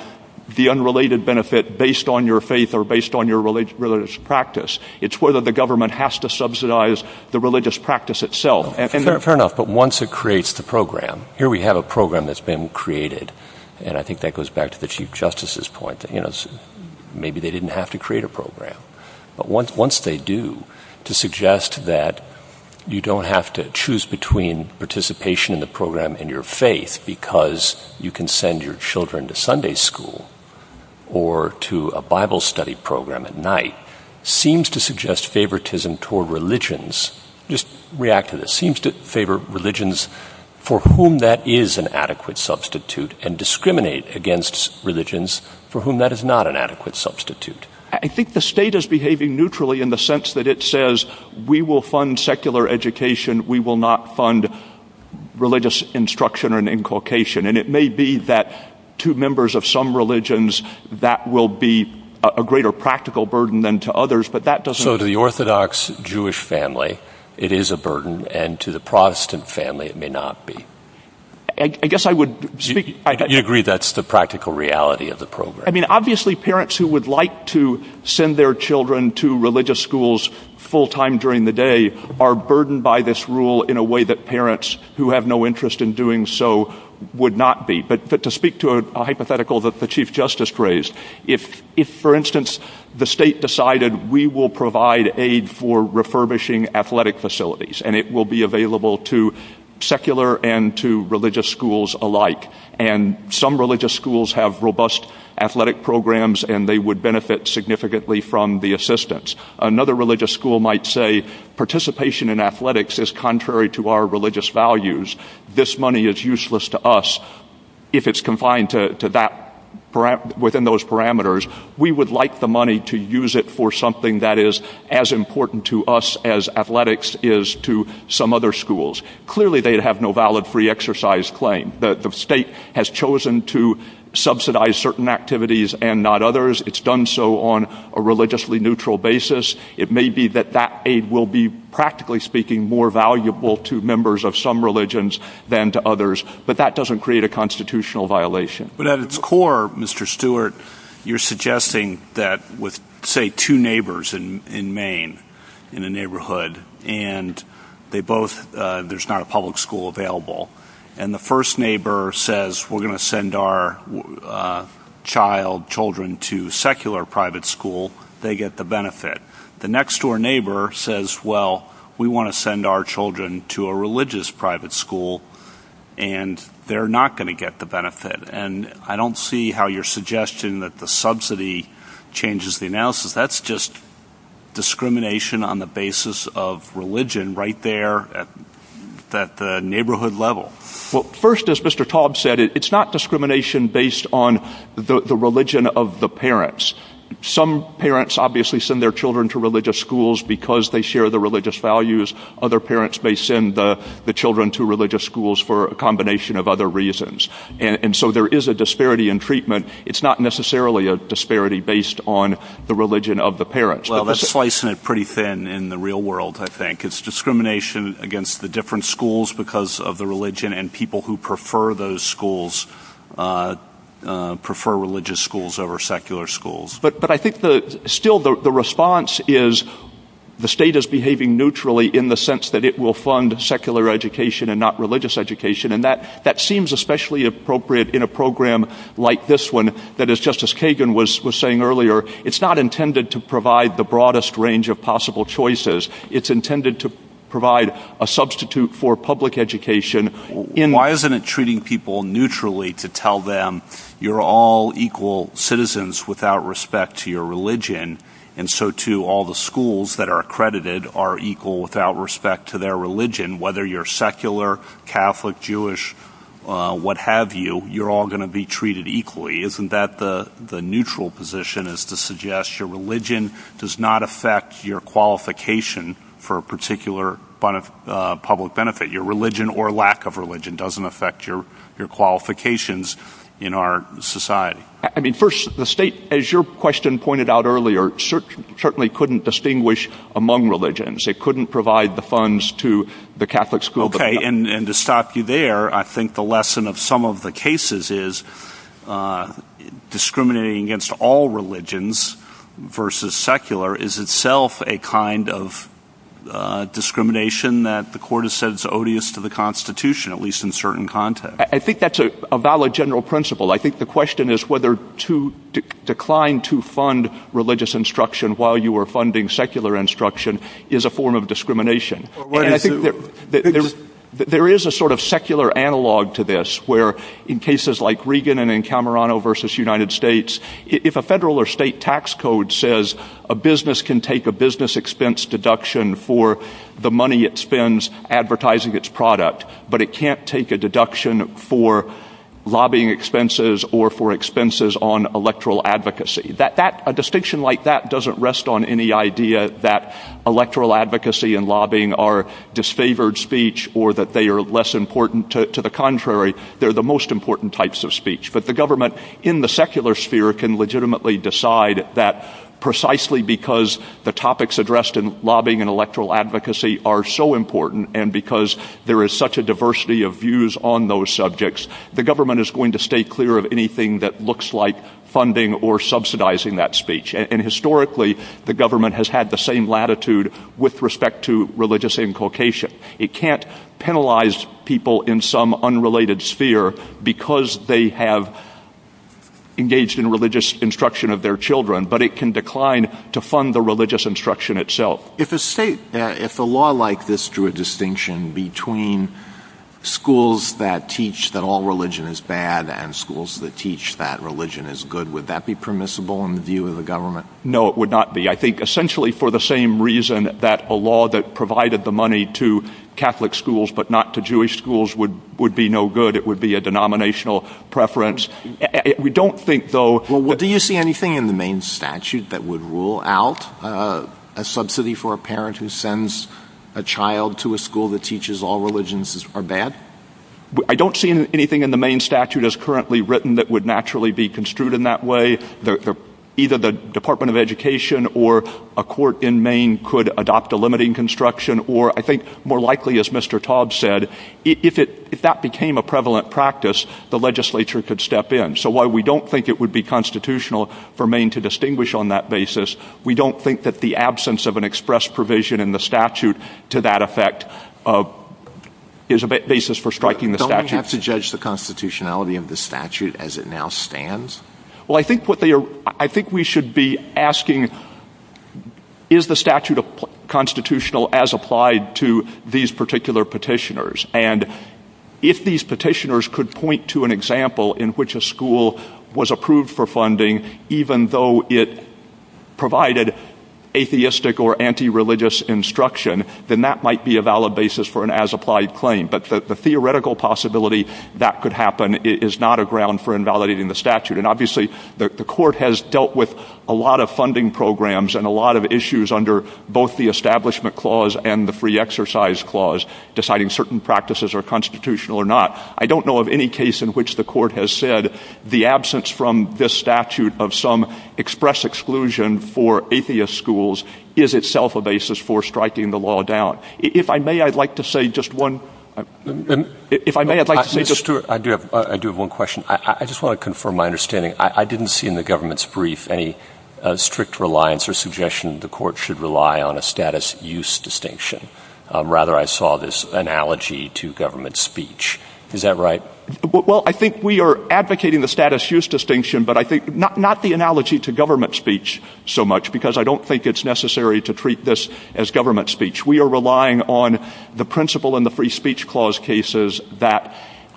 the unrelated benefit based on your faith or based on your religious practice. It's whether the government has to subsidize the religious practice itself. Fair enough, but once it creates the program, here we have a program that's been created, and I think that goes back to the Chief Justice's point that maybe they didn't have to create a program. But once they do, to suggest that you don't have to choose between participation in the program and your faith because you can send your children to Sunday school or to a Bible study program at night seems to suggest favoritism toward religions. Just react to this. Seems to favor religions for whom that is an adequate substitute and discriminate against religions for whom that is not an adequate substitute. I think the state is behaving neutrally in the sense that it says, we will fund secular education, we will not fund religious instruction and inculcation. And it may be that to members of some religions that will be a greater practical burden than to others, but that doesn't... So to the Orthodox Jewish family, it is a burden, and to the Protestant family, it may not be. I guess I would speak... You agree that's the practical reality of the program. I mean, obviously parents who would like to send their children to religious schools full time during the day are burdened by this rule in a way that parents who have no interest in doing so would not be. But to speak to a hypothetical that the Chief Justice raised, if, for instance, the state decided we will provide aid for refurbishing athletic facilities and it will be available to secular and to religious schools alike. And some religious schools have robust athletic programs and they would benefit significantly from the assistance. Another religious school might say participation in athletics is contrary to our religious values. This money is useless to us if it's confined within those parameters. We would like the money to use it for something that is as important to us as athletics is to some other schools. Clearly they have no valid free exercise claim. The state has chosen to subsidize certain activities and not others. It's done so on a religiously neutral basis. It may be that that aid will be, practically speaking, more valuable to members of some religions than to others. But that doesn't create a constitutional violation. But at its core, Mr. Stewart, you're suggesting that with, say, two neighbors in Maine, in a neighborhood, and there's not a public school available, and the first neighbor says, we're going to send our child, children, to a secular private school, they get the benefit. The next-door neighbor says, well, we want to send our children to a religious private school, and they're not going to get the benefit. And I don't see how your suggestion that the subsidy changes the analysis. That's just discrimination on the basis of religion right there at the neighborhood level. Well, first, as Mr. Taub said, it's not discrimination based on the religion of the parents. Some parents obviously send their children to religious schools because they share the religious values. Other parents may send the children to religious schools for a combination of other reasons. And so there is a disparity in treatment. It's not necessarily a disparity based on the religion of the parents. Well, that's slicing it pretty thin in the real world, I think. It's discrimination against the different schools because of the religion, and people who prefer those schools prefer religious schools over secular schools. But I think still the response is the state is behaving neutrally in the sense that it will fund secular education and not religious education. And that seems especially appropriate in a program like this one that, as Justice Kagan was saying earlier, it's not intended to provide the broadest range of possible choices. It's intended to provide a substitute for public education. Why isn't it treating people neutrally to tell them you're all equal citizens without respect to your religion, and so, too, all the schools that are accredited are equal without respect to their religion, whether you're secular, Catholic, Jewish, what have you, you're all going to be treated equally. Isn't that the neutral position is to suggest your religion does not affect your qualification for a particular public benefit? Your religion or lack of religion doesn't affect your qualifications in our society. I mean, first, the state, as your question pointed out earlier, certainly couldn't distinguish among religions. They couldn't provide the funds to the Catholic school. Okay, and to stop you there, I think the lesson of some of the cases is discriminating against all religions versus secular is itself a kind of discrimination that the court has said is odious to the Constitution, at least in certain context. I think that's a valid general principle. I think the question is whether to decline to fund religious instruction while you are funding secular instruction is a form of discrimination. There is a sort of secular analog to this where, in cases like Regan and in Camerano versus United States, if a federal or state tax code says a business can take a business expense deduction for the money it spends advertising its product, but it can't take a deduction for lobbying expenses or for expenses on electoral advocacy. A distinction like that doesn't rest on any idea that electoral advocacy and lobbying are disfavored speech or that they are less important. To the contrary, they're the most important types of speech. But the government in the secular sphere can legitimately decide that precisely because the topics addressed in lobbying and electoral advocacy are so important and because there is such a diversity of views on those subjects, the government is going to stay clear of anything that looks like funding or subsidizing that speech. And historically, the government has had the same latitude with respect to religious inculcation. It can't penalize people in some unrelated sphere because they have engaged in religious instruction of their children, but it can decline to fund the religious instruction itself. If the law like this drew a distinction between schools that teach that all religion is bad and schools that teach that religion is good, would that be permissible in the view of the government? No, it would not be. I think essentially for the same reason that a law that provided the money to Catholic schools but not to Jewish schools would be no good. It would be a denominational preference. Do you see anything in the main statute that would rule out a subsidy for a parent who sends a child to a school that teaches all religions are bad? I don't see anything in the main statute as currently written that would naturally be construed in that way. Either the Department of Education or a court in Maine could adopt a limiting construction or I think more likely as Mr. Todd said, if that became a prevalent practice, the legislature could step in. So while we don't think it would be constitutional for Maine to distinguish on that basis, we don't think that the absence of an express provision in the statute to that effect is a basis for striking the statute. Don't we have to judge the constitutionality of the statute as it now stands? I think we should be asking, is the statute constitutional as applied to these particular petitioners? And if these petitioners could point to an example in which a school was approved for funding even though it provided atheistic or anti-religious instruction, then that might be a valid basis for an as-applied claim. But the theoretical possibility that could happen is not a ground for invalidating the statute. And obviously the court has dealt with a lot of funding programs and a lot of issues under both the Establishment Clause and the Free Exercise Clause deciding certain practices are constitutional or not. I don't know of any case in which the court has said the absence from this statute of some express exclusion for atheist schools is itself a basis for striking the law down. If I may, I'd like to say just one thing. I do have one question. I just want to confirm my understanding. I didn't see in the government's brief any strict reliance or suggestion the court should rely on a status use distinction. Rather, I saw this analogy to government speech. Is that right? Well, I think we are advocating the status use distinction, but not the analogy to government speech so much because I don't think it's necessary to treat this as government speech. We are relying on the principle in the Free Speech Clause cases that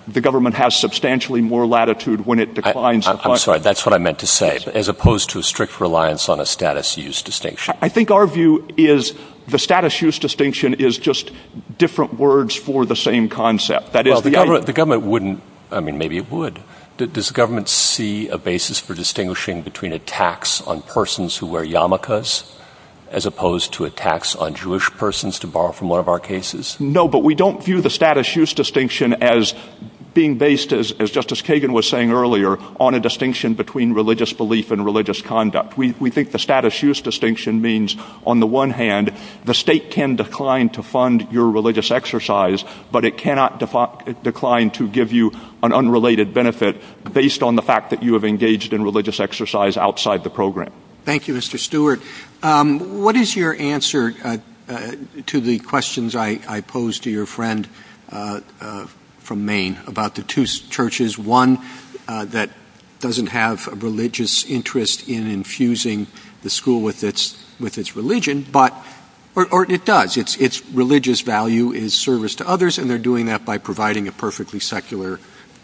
the government has substantially more latitude when it defines a function. I'm sorry. That's what I meant to say, as opposed to a strict reliance on a status use distinction. I think our view is the status use distinction is just different words for the same concept. The government wouldn't. I mean, maybe it would. Does the government see a basis for distinguishing between attacks on persons who wear yarmulkes as opposed to attacks on Jewish persons, to borrow from one of our cases? No, but we don't view the status use distinction as being based, as Justice Kagan was saying earlier, on a distinction between religious belief and religious conduct. We think the status use distinction means, on the one hand, the state can decline to fund your religious exercise, but it cannot decline to give you an unrelated benefit based on the fact that you have engaged in religious exercise outside the program. Thank you, Mr. Stewart. What is your answer to the questions I posed to your friend from Maine about the two churches? One that doesn't have a religious interest in infusing the school with its religion, or it does. It's religious value in service to others, and they're doing that by providing a perfectly secular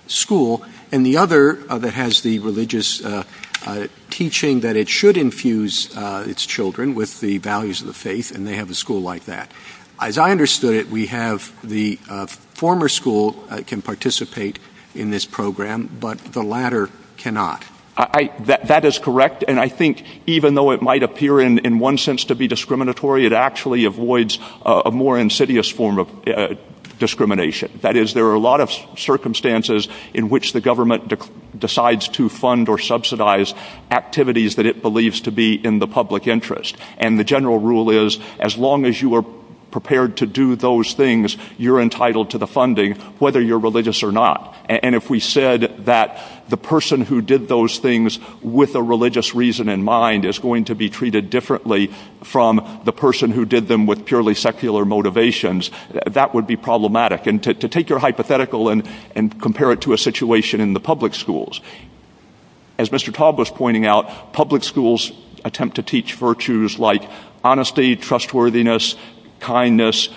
school. And the other that has the religious teaching that it should infuse its children with the values of the faith, and they have a school like that. As I understood it, we have the former school that can participate in this program, but the latter cannot. That is correct, and I think even though it might appear in one sense to be discriminatory, it actually avoids a more insidious form of discrimination. That is, there are a lot of circumstances in which the government decides to fund or subsidize activities that it believes to be in the public interest. And the general rule is, as long as you are prepared to do those things, you're entitled to the funding, whether you're religious or not. And if we said that the person who did those things with a religious reason in mind is going to be treated differently from the person who did them with purely secular motivations, that would be problematic. And to take your hypothetical and compare it to a situation in the public schools, as Mr. Taub was pointing out, public schools attempt to teach virtues like honesty, trustworthiness, kindness,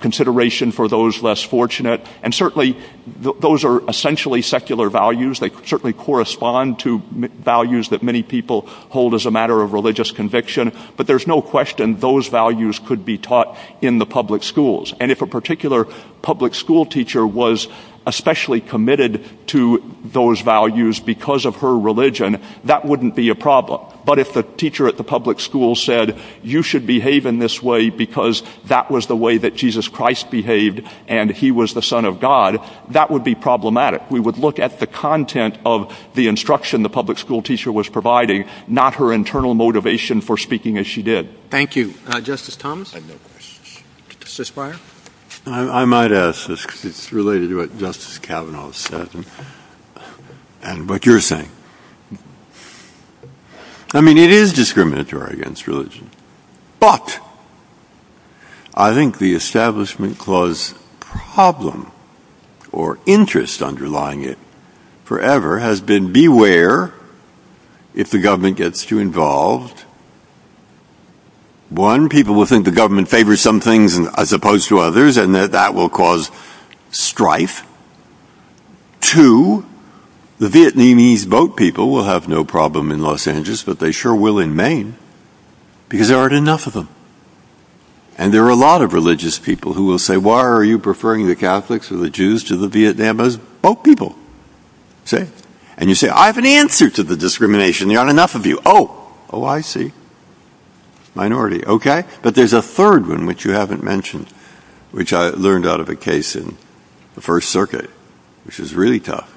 consideration for those less fortunate. And certainly those are essentially secular values. They certainly correspond to values that many people hold as a matter of religious conviction. But there's no question those values could be taught in the public schools. And if a particular public school teacher was especially committed to those values because of her religion, that wouldn't be a problem. But if the teacher at the public school said, you should behave in this way because that was the way that Jesus Christ behaved and he was the son of God, that would be problematic. We would look at the content of the instruction the public school teacher was providing, not her internal motivation for speaking as she did. Thank you. Justice Thomas? Justice Breyer? I might ask this because it's related to what Justice Kavanaugh said and what you're saying. I mean, it is discriminatory against religion. But I think the establishment clause problem or interest underlying it forever has been beware if the government gets too involved. One, people will think the government favors some things as opposed to others and that that will cause strife. Two, the Vietnamese boat people will have no problem in Los Angeles, but they sure will in Maine because there aren't enough of them. And there are a lot of religious people who will say, why are you preferring the Catholics or the Jews to the Vietnamese boat people? And you say, I have an answer to the discrimination. There aren't enough of you. Oh, oh, I see. Minority. OK, but there's a third one which you haven't mentioned, which I learned out of a case in the First Circuit, which is really tough.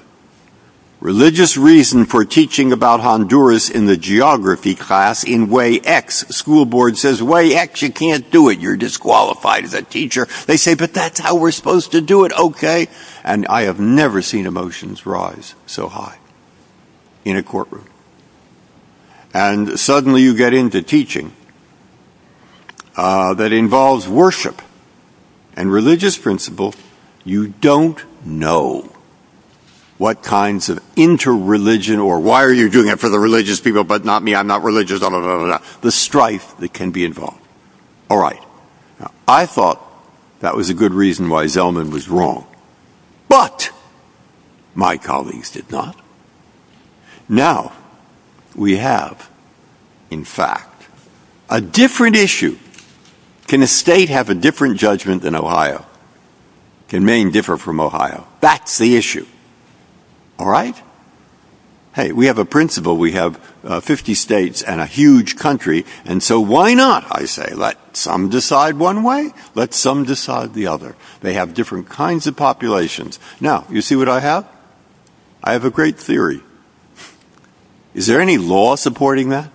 Religious reason for teaching about Honduras in the geography class in way X school board says way X. You can't do it. You're disqualified. The teacher. They say, but that's how we're supposed to do it. OK. And I have never seen emotions rise so high in a courtroom. And suddenly you get into teaching that involves worship and religious principles. You don't know what kinds of interreligion or why are you doing it for the religious people, but not me. I'm not religious. The strife that can be involved. All right. I thought that was a good reason why Zelman was wrong, but my colleagues did not. Now we have, in fact, a different issue. Can a state have a different judgment than Ohio? Can Maine differ from Ohio? That's the issue. All right. Hey, we have a principle. We have 50 states and a huge country. And so why not, I say, let some decide one way, let some decide the other. They have different kinds of populations. Now, you see what I have. I have a great theory. Is there any law supporting that?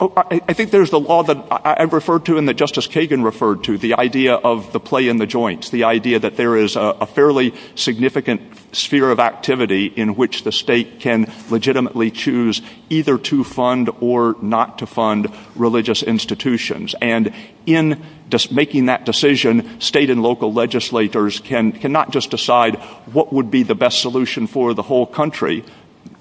I think there's a law that I referred to in the Justice Kagan referred to the idea of the play in the joints. The idea that there is a fairly significant sphere of activity in which the state can legitimately choose either to fund or not to fund religious institutions. And in making that decision, state and local legislators cannot just decide what would be the best solution for the whole country.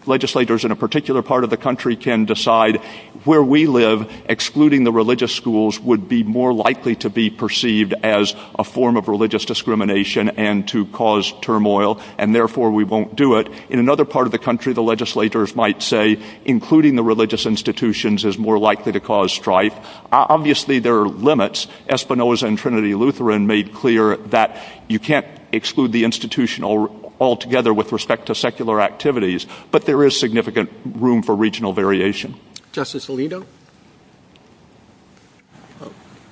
Legislators in a particular part of the country can decide where we live, excluding the religious schools would be more likely to be perceived as a form of religious discrimination and to cause turmoil, and therefore we won't do it. In another part of the country, the legislators might say including the religious institutions is more likely to cause strife. Obviously, there are limits. Espinoza and Trinity Lutheran made clear that you can't exclude the institution altogether with respect to secular activities, but there is significant room for regional variation. Justice Alito,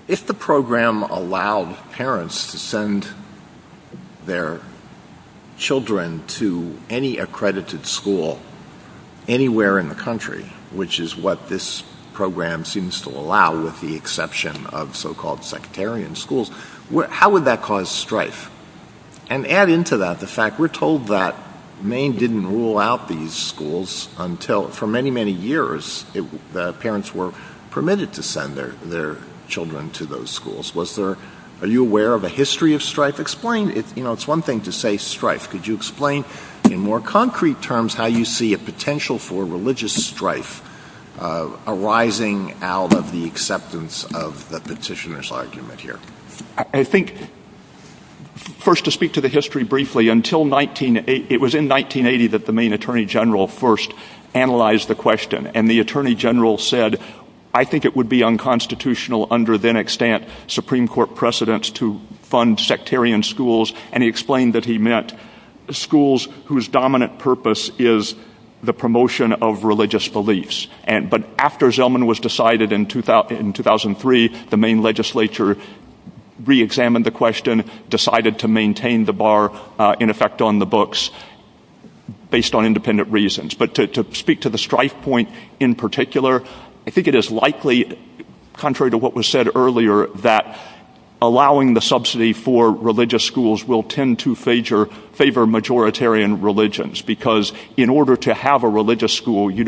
if the program allowed parents to send their children to any accredited school anywhere in the country, which is what this program seems to allow with the exception of so-called sectarian schools, how would that cause strife? And add into that the fact we're told that Maine didn't rule out these schools until, for many, many years, parents were permitted to send their children to those schools. Are you aware of a history of strife? Explain. It's one thing to say strife. Could you explain in more concrete terms how you see a potential for religious strife arising out of the acceptance of the petitioner's argument here? First, to speak to the history briefly, it was in 1980 that the Maine Attorney General first analyzed the question. And the Attorney General said, I think it would be unconstitutional under then-extant Supreme Court precedents to fund sectarian schools. And he explained that he meant schools whose dominant purpose is the promotion of religious beliefs. But after Zelman was decided in 2003, the Maine legislature reexamined the question, decided to maintain the bar in effect on the books based on independent reasons. But to speak to the strife point in particular, I think it is likely, contrary to what was said earlier, that allowing the subsidy for religious schools will tend to favor majoritarian religions. Because in order to have a religious school, you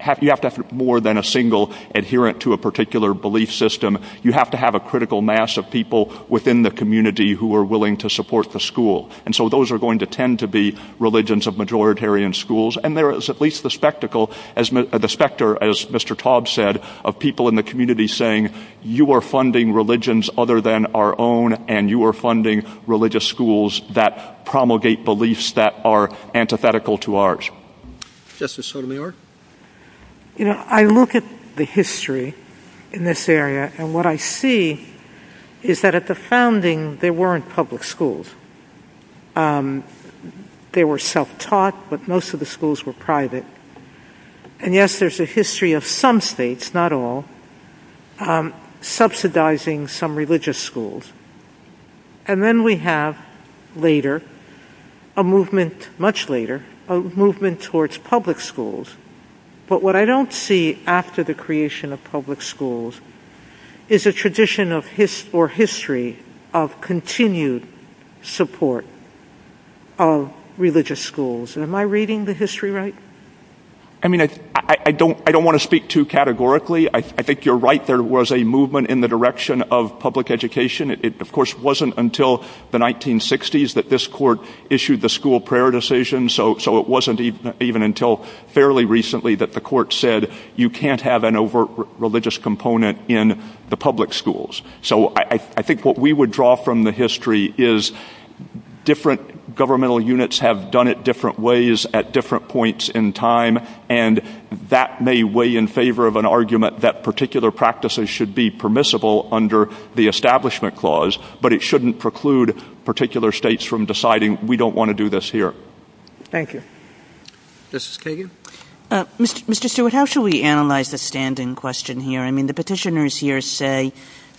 have to have more than a single adherent to a particular belief system. You have to have a critical mass of people within the community who are willing to support the school. And so those are going to tend to be religions of majoritarian schools. And there is at least the specter, as Mr. Taub said, of people in the community saying, you are funding religions other than our own, and you are funding religious schools that promulgate beliefs that are antithetical to ours. Justice Sotomayor? I look at the history in this area, and what I see is that at the founding, there weren't public schools. They were self-taught, but most of the schools were private. And yes, there is a history of some states, not all, subsidizing some religious schools. And then we have later, much later, a movement towards public schools. But what I don't see after the creation of public schools is a tradition or history of continued support of religious schools. Am I reading the history right? I mean, I don't want to speak too categorically. I think you're right. There was a movement in the direction of public education. It, of course, wasn't until the 1960s that this court issued the school prayer decision. So it wasn't even until fairly recently that the court said, you can't have an overt religious component in the public schools. So I think what we would draw from the history is different governmental units have done it different ways at different points in time, and that may weigh in favor of an argument that particular practices should be permissible under the Establishment Clause, but it shouldn't preclude particular states from deciding, we don't want to do this here. Thank you. Justice Kagan? Mr. Stewart, how should we analyze the standing question here? I mean, the petitioners here say,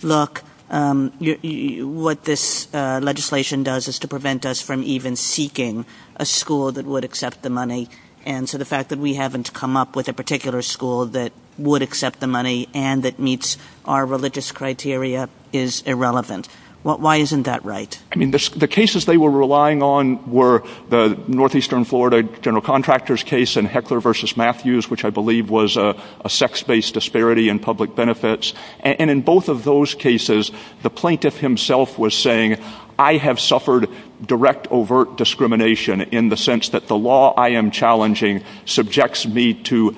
look, what this legislation does is to prevent us from even seeking a school that would accept the money. And so the fact that we haven't come up with a particular school that would accept the money and that meets our religious criteria is irrelevant. Why isn't that right? I mean, the cases they were relying on were the Northeastern Florida general contractor's case and Heckler v. Matthews, which I believe was a sex-based disparity in public benefits. And in both of those cases, the plaintiff himself was saying, I have suffered direct overt discrimination in the sense that the law I am challenging subjects me to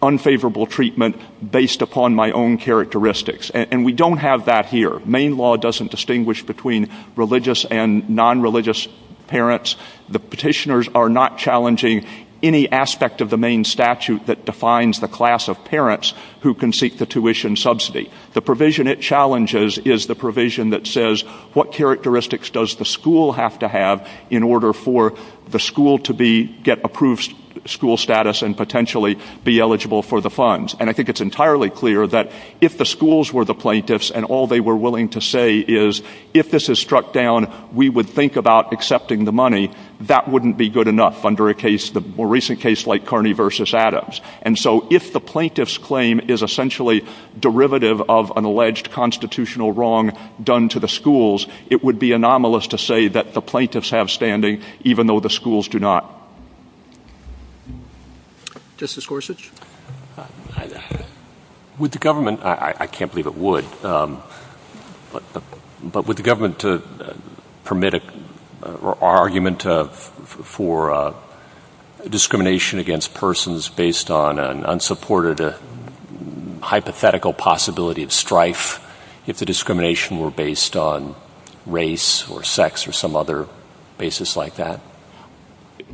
unfavorable treatment based upon my own characteristics. And we don't have that here. Maine law doesn't distinguish between religious and non-religious parents. The petitioners are not challenging any aspect of the Maine statute that defines the class of parents who can seek the tuition subsidy. The provision it challenges is the provision that says, what characteristics does the school have to have in order for the school to get approved school status and potentially be eligible for the funds? And I think it's entirely clear that if the schools were the plaintiffs and all they were willing to say is, if this is struck down, we would think about accepting the money. That wouldn't be good enough under a case, the more recent case like Carney v. Adams. And so if the plaintiff's claim is essentially derivative of an alleged constitutional wrong done to the schools, it would be anomalous to say that the plaintiffs have standing, even though the schools do not. Justice Gorsuch. With the government, I can't believe it would. But with the government to permit or argument for discrimination against persons based on an unsupported hypothetical possibility of strife, if the discrimination were based on race or sex or some other basis like that.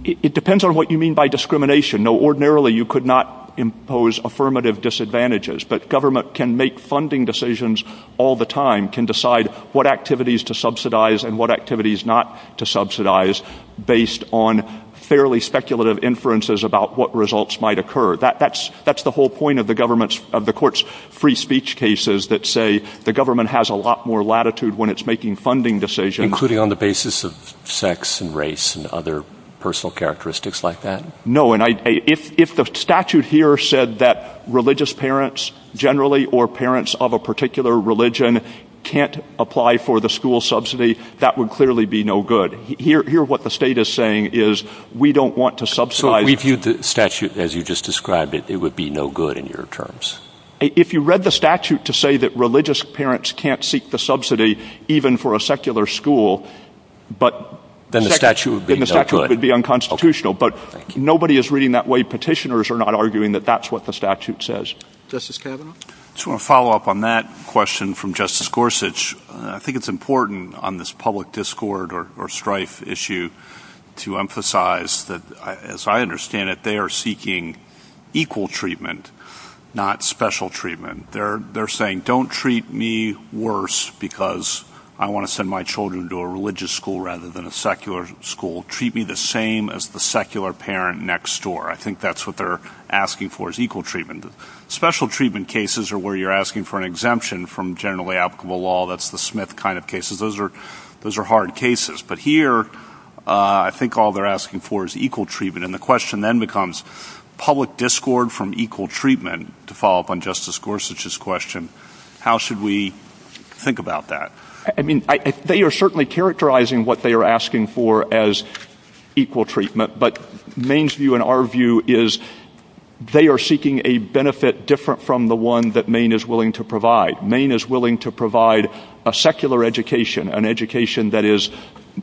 It depends on what you mean by discrimination. No, ordinarily you could not impose affirmative disadvantages, but government can make funding decisions all the time, can decide what activities to subsidize and what activities not to subsidize based on fairly speculative inferences about what results might occur. That's the whole point of the court's free speech cases that say the government has a lot more latitude when it's making funding decisions. Including on the basis of sex and race and other personal characteristics like that? No, and if the statute here said that religious parents generally or parents of a particular religion can't apply for the school subsidy, that would clearly be no good. Here what the state is saying is we don't want to subsidize. If we viewed the statute as you just described it, it would be no good in your terms. If you read the statute to say that religious parents can't seek the subsidy even for a secular school, then the statute would be unconstitutional. But nobody is reading that way. Petitioners are not arguing that that's what the statute says. Justice Kavanaugh? I just want to follow up on that question from Justice Gorsuch. I think it's important on this public discord or strife issue to emphasize that, as I understand it, they are seeking equal treatment, not special treatment. They're saying don't treat me worse because I want to send my children to a religious school rather than a secular school. Treat me the same as the secular parent next door. I think that's what they're asking for is equal treatment. Special treatment cases are where you're asking for an exemption from generally applicable law. That's the Smith kind of cases. Those are hard cases. But here I think all they're asking for is equal treatment. And the question then becomes public discord from equal treatment. To follow up on Justice Gorsuch's question, how should we think about that? They are certainly characterizing what they are asking for as equal treatment. But Maine's view and our view is they are seeking a benefit different from the one that Maine is willing to provide. Maine is willing to provide a secular education, an education that is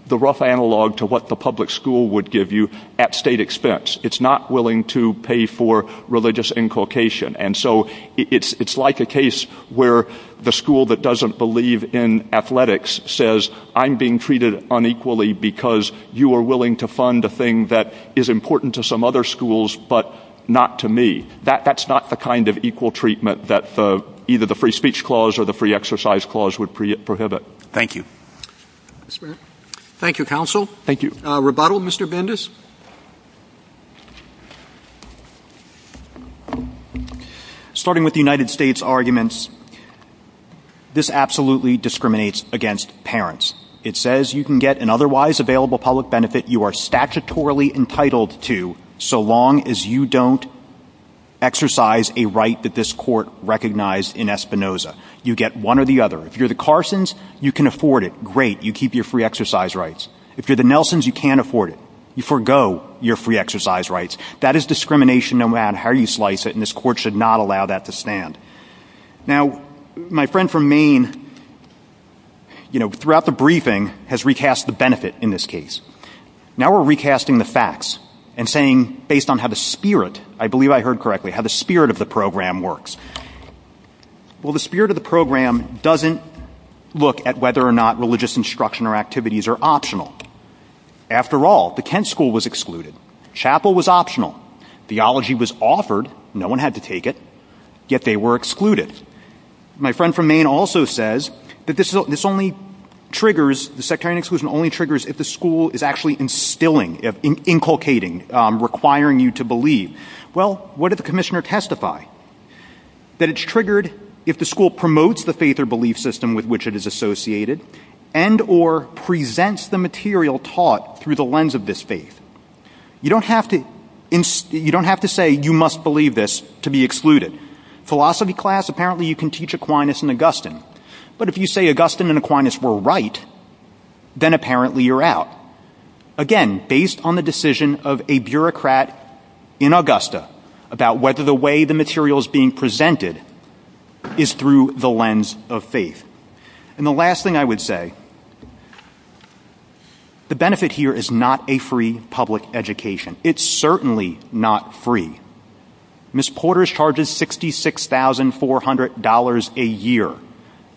the rough analog to what the public school would give you at state expense. It's not willing to pay for religious inculcation. And so it's like a case where the school that doesn't believe in athletics says I'm being treated unequally because you are willing to fund a thing that is important to some other schools but not to me. That's not the kind of equal treatment that either the free speech clause or the free exercise clause would prohibit. Thank you. Thank you, counsel. Thank you. Rebuttal, Mr. Bendis? Starting with the United States arguments, this absolutely discriminates against parents. It says you can get an otherwise available public benefit you are statutorily entitled to so long as you don't exercise a right that this court recognized in Espinoza. You get one or the other. If you're the Carsons, you can afford it. Great. You keep your free exercise rights. If you're the Nelsons, you can't afford it. You forgo your free exercise rights. That is discrimination around how you slice it, and this court should not allow that to stand. Now, my friend from Maine, you know, throughout the briefing has recast the benefit in this case. Now we're recasting the facts and saying based on how the spirit, I believe I heard correctly, how the spirit of the program works. Well, the spirit of the program doesn't look at whether or not religious instruction or activities are optional. After all, the Kent school was excluded. Chapel was optional. Theology was offered. No one had to take it. Yet they were excluded. My friend from Maine also says that this only triggers, the sectarian exclusion only triggers if the school is actually instilling, inculcating, requiring you to believe. Well, what did the commissioner testify? That it's triggered if the school promotes the faith or belief system with which it is associated and or presents the material taught through the lens of this faith. You don't have to say you must believe this to be excluded. Philosophy class, apparently you can teach Aquinas and Augustine. But if you say Augustine and Aquinas were right, then apparently you're out. Again, based on the decision of a bureaucrat in Augusta about whether the way the material is being presented is through the lens of faith. And the last thing I would say, the benefit here is not a free public education. It's certainly not free. Ms. Porter's charges $66,400 a year.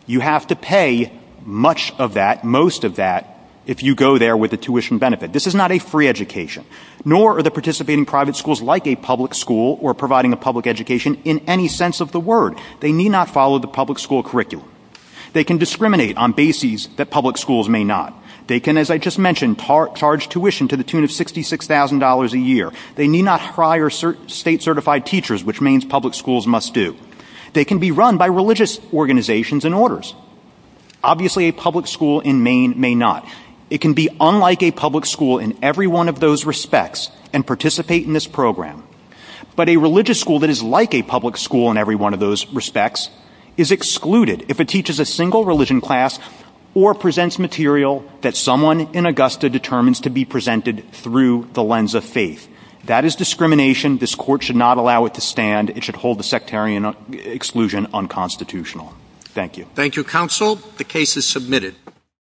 You have to pay much of that, most of that, if you go there with a tuition benefit. This is not a free education. Nor are the participating private schools like a public school or providing a public education in any sense of the word. They need not follow the public school curriculum. They can discriminate on bases that public schools may not. They can, as I just mentioned, charge tuition to the tune of $66,000 a year. They need not hire state certified teachers, which means public schools must do. They can be run by religious organizations and orders. Obviously a public school in Maine may not. It can be unlike a public school in every one of those respects and participate in this program. But a religious school that is like a public school in every one of those respects is excluded if it teaches a single religion class or presents material that someone in Augusta determines to be presented through the lens of faith. That is discrimination. This court should not allow it to stand. It should hold the sectarian exclusion unconstitutional. Thank you. Thank you, counsel. The case is submitted.